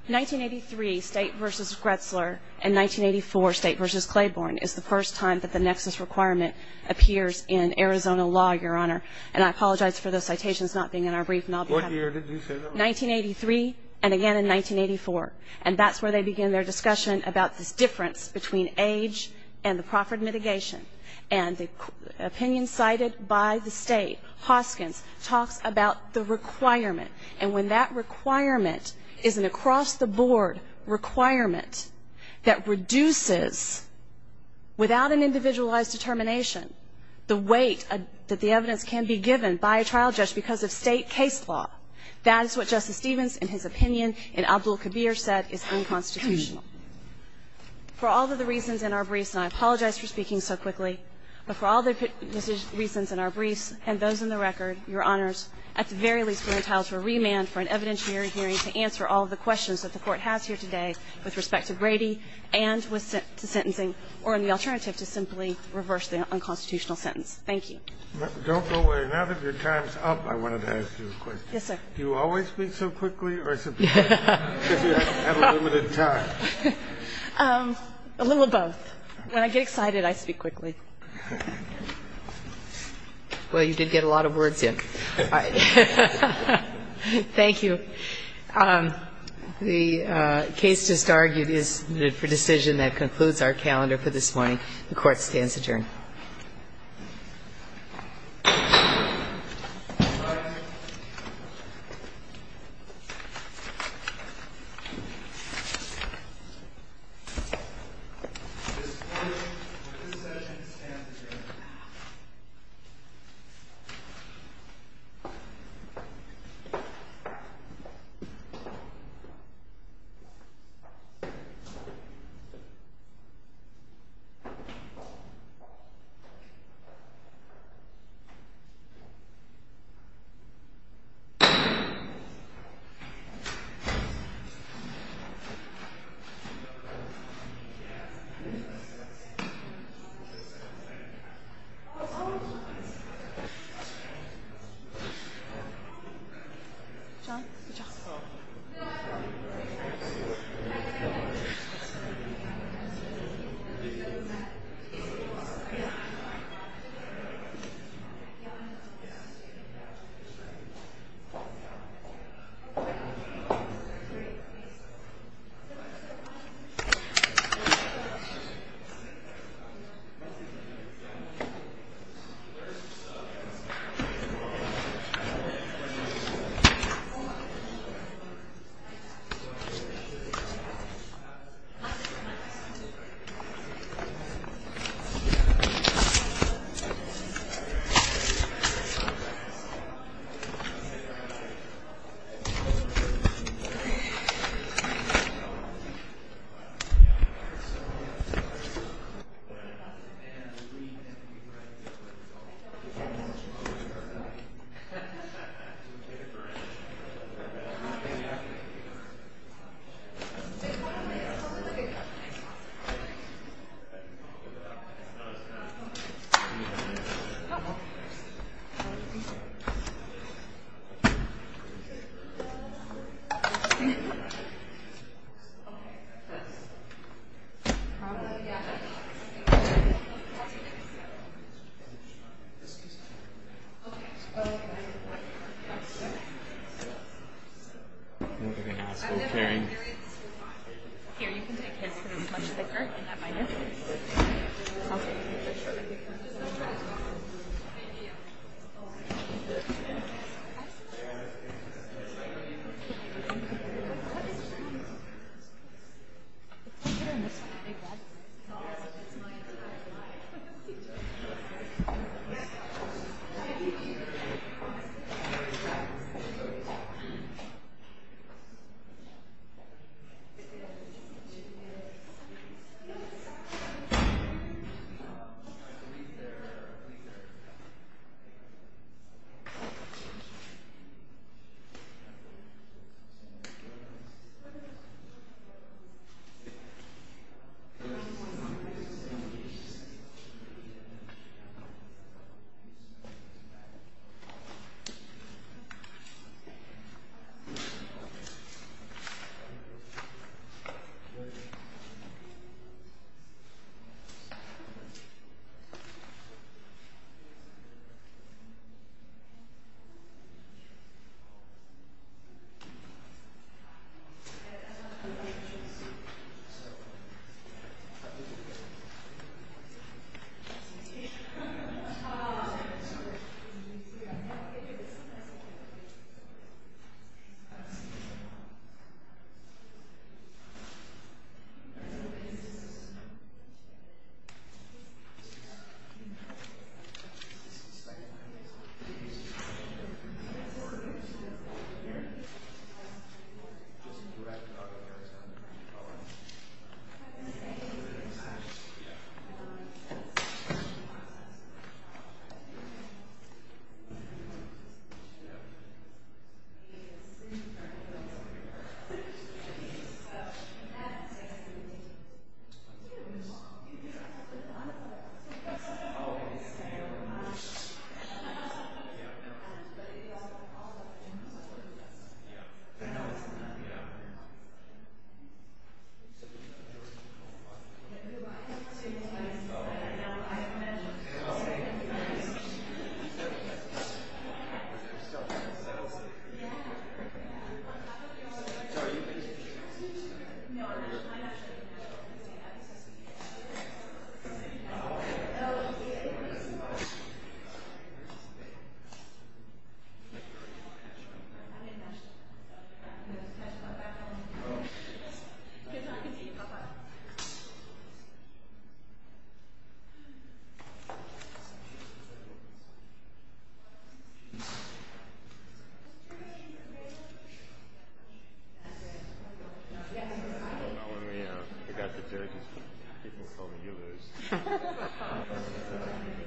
1983, State v. Gretzler, and 1984, State v. Claiborne, is the first time that the nexus requirement appears in Arizona law, Your Honor. And I apologize for those citations not being in our brief. What year did you say that was? 1983, and again in 1984. And that's where they begin their discussion about this difference between age and the proffered mitigation. And the opinion cited by the State, Hoskins, talks about the requirement. And when that requirement is an across-the-board requirement that reduces, without an individualized determination, the weight that the evidence can be given by a trial judge because of State case law, that is what Justice Stevens, in his opinion, and Abdul Kabir said is unconstitutional. For all of the reasons in our briefs, and I apologize for speaking so quickly, but for all the reasons in our briefs and those in the record, Your Honors, the Court, at the very least, will entitle to a remand for an evidentiary hearing to answer all of the questions that the Court has here today with respect to Brady and with sentencing, or in the alternative, to simply reverse the unconstitutional sentence. Thank you. Don't go away. Now that your time is up, I wanted to ask you a question. Yes, sir. Do you always speak so quickly or is it because you have a limited time? A little of both. When I get excited, I speak quickly. Well, you did get a lot of words in. Thank you. The case just argued is for decision that concludes our calendar for this morning. The Court stands adjourned.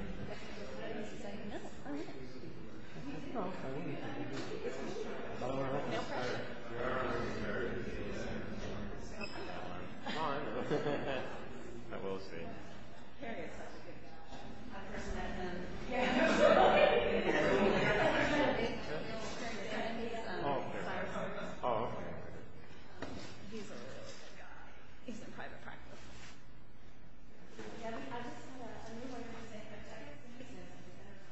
The Court is adjourned. The Court is adjourned. The Court is adjourned. The Court is adjourned. The Court is adjourned. The Court is adjourned. The Court is adjourned. The Court is adjourned. The Court is adjourned. The Court is adjourned. The Court is adjourned. The Court is adjourned. The Court is adjourned.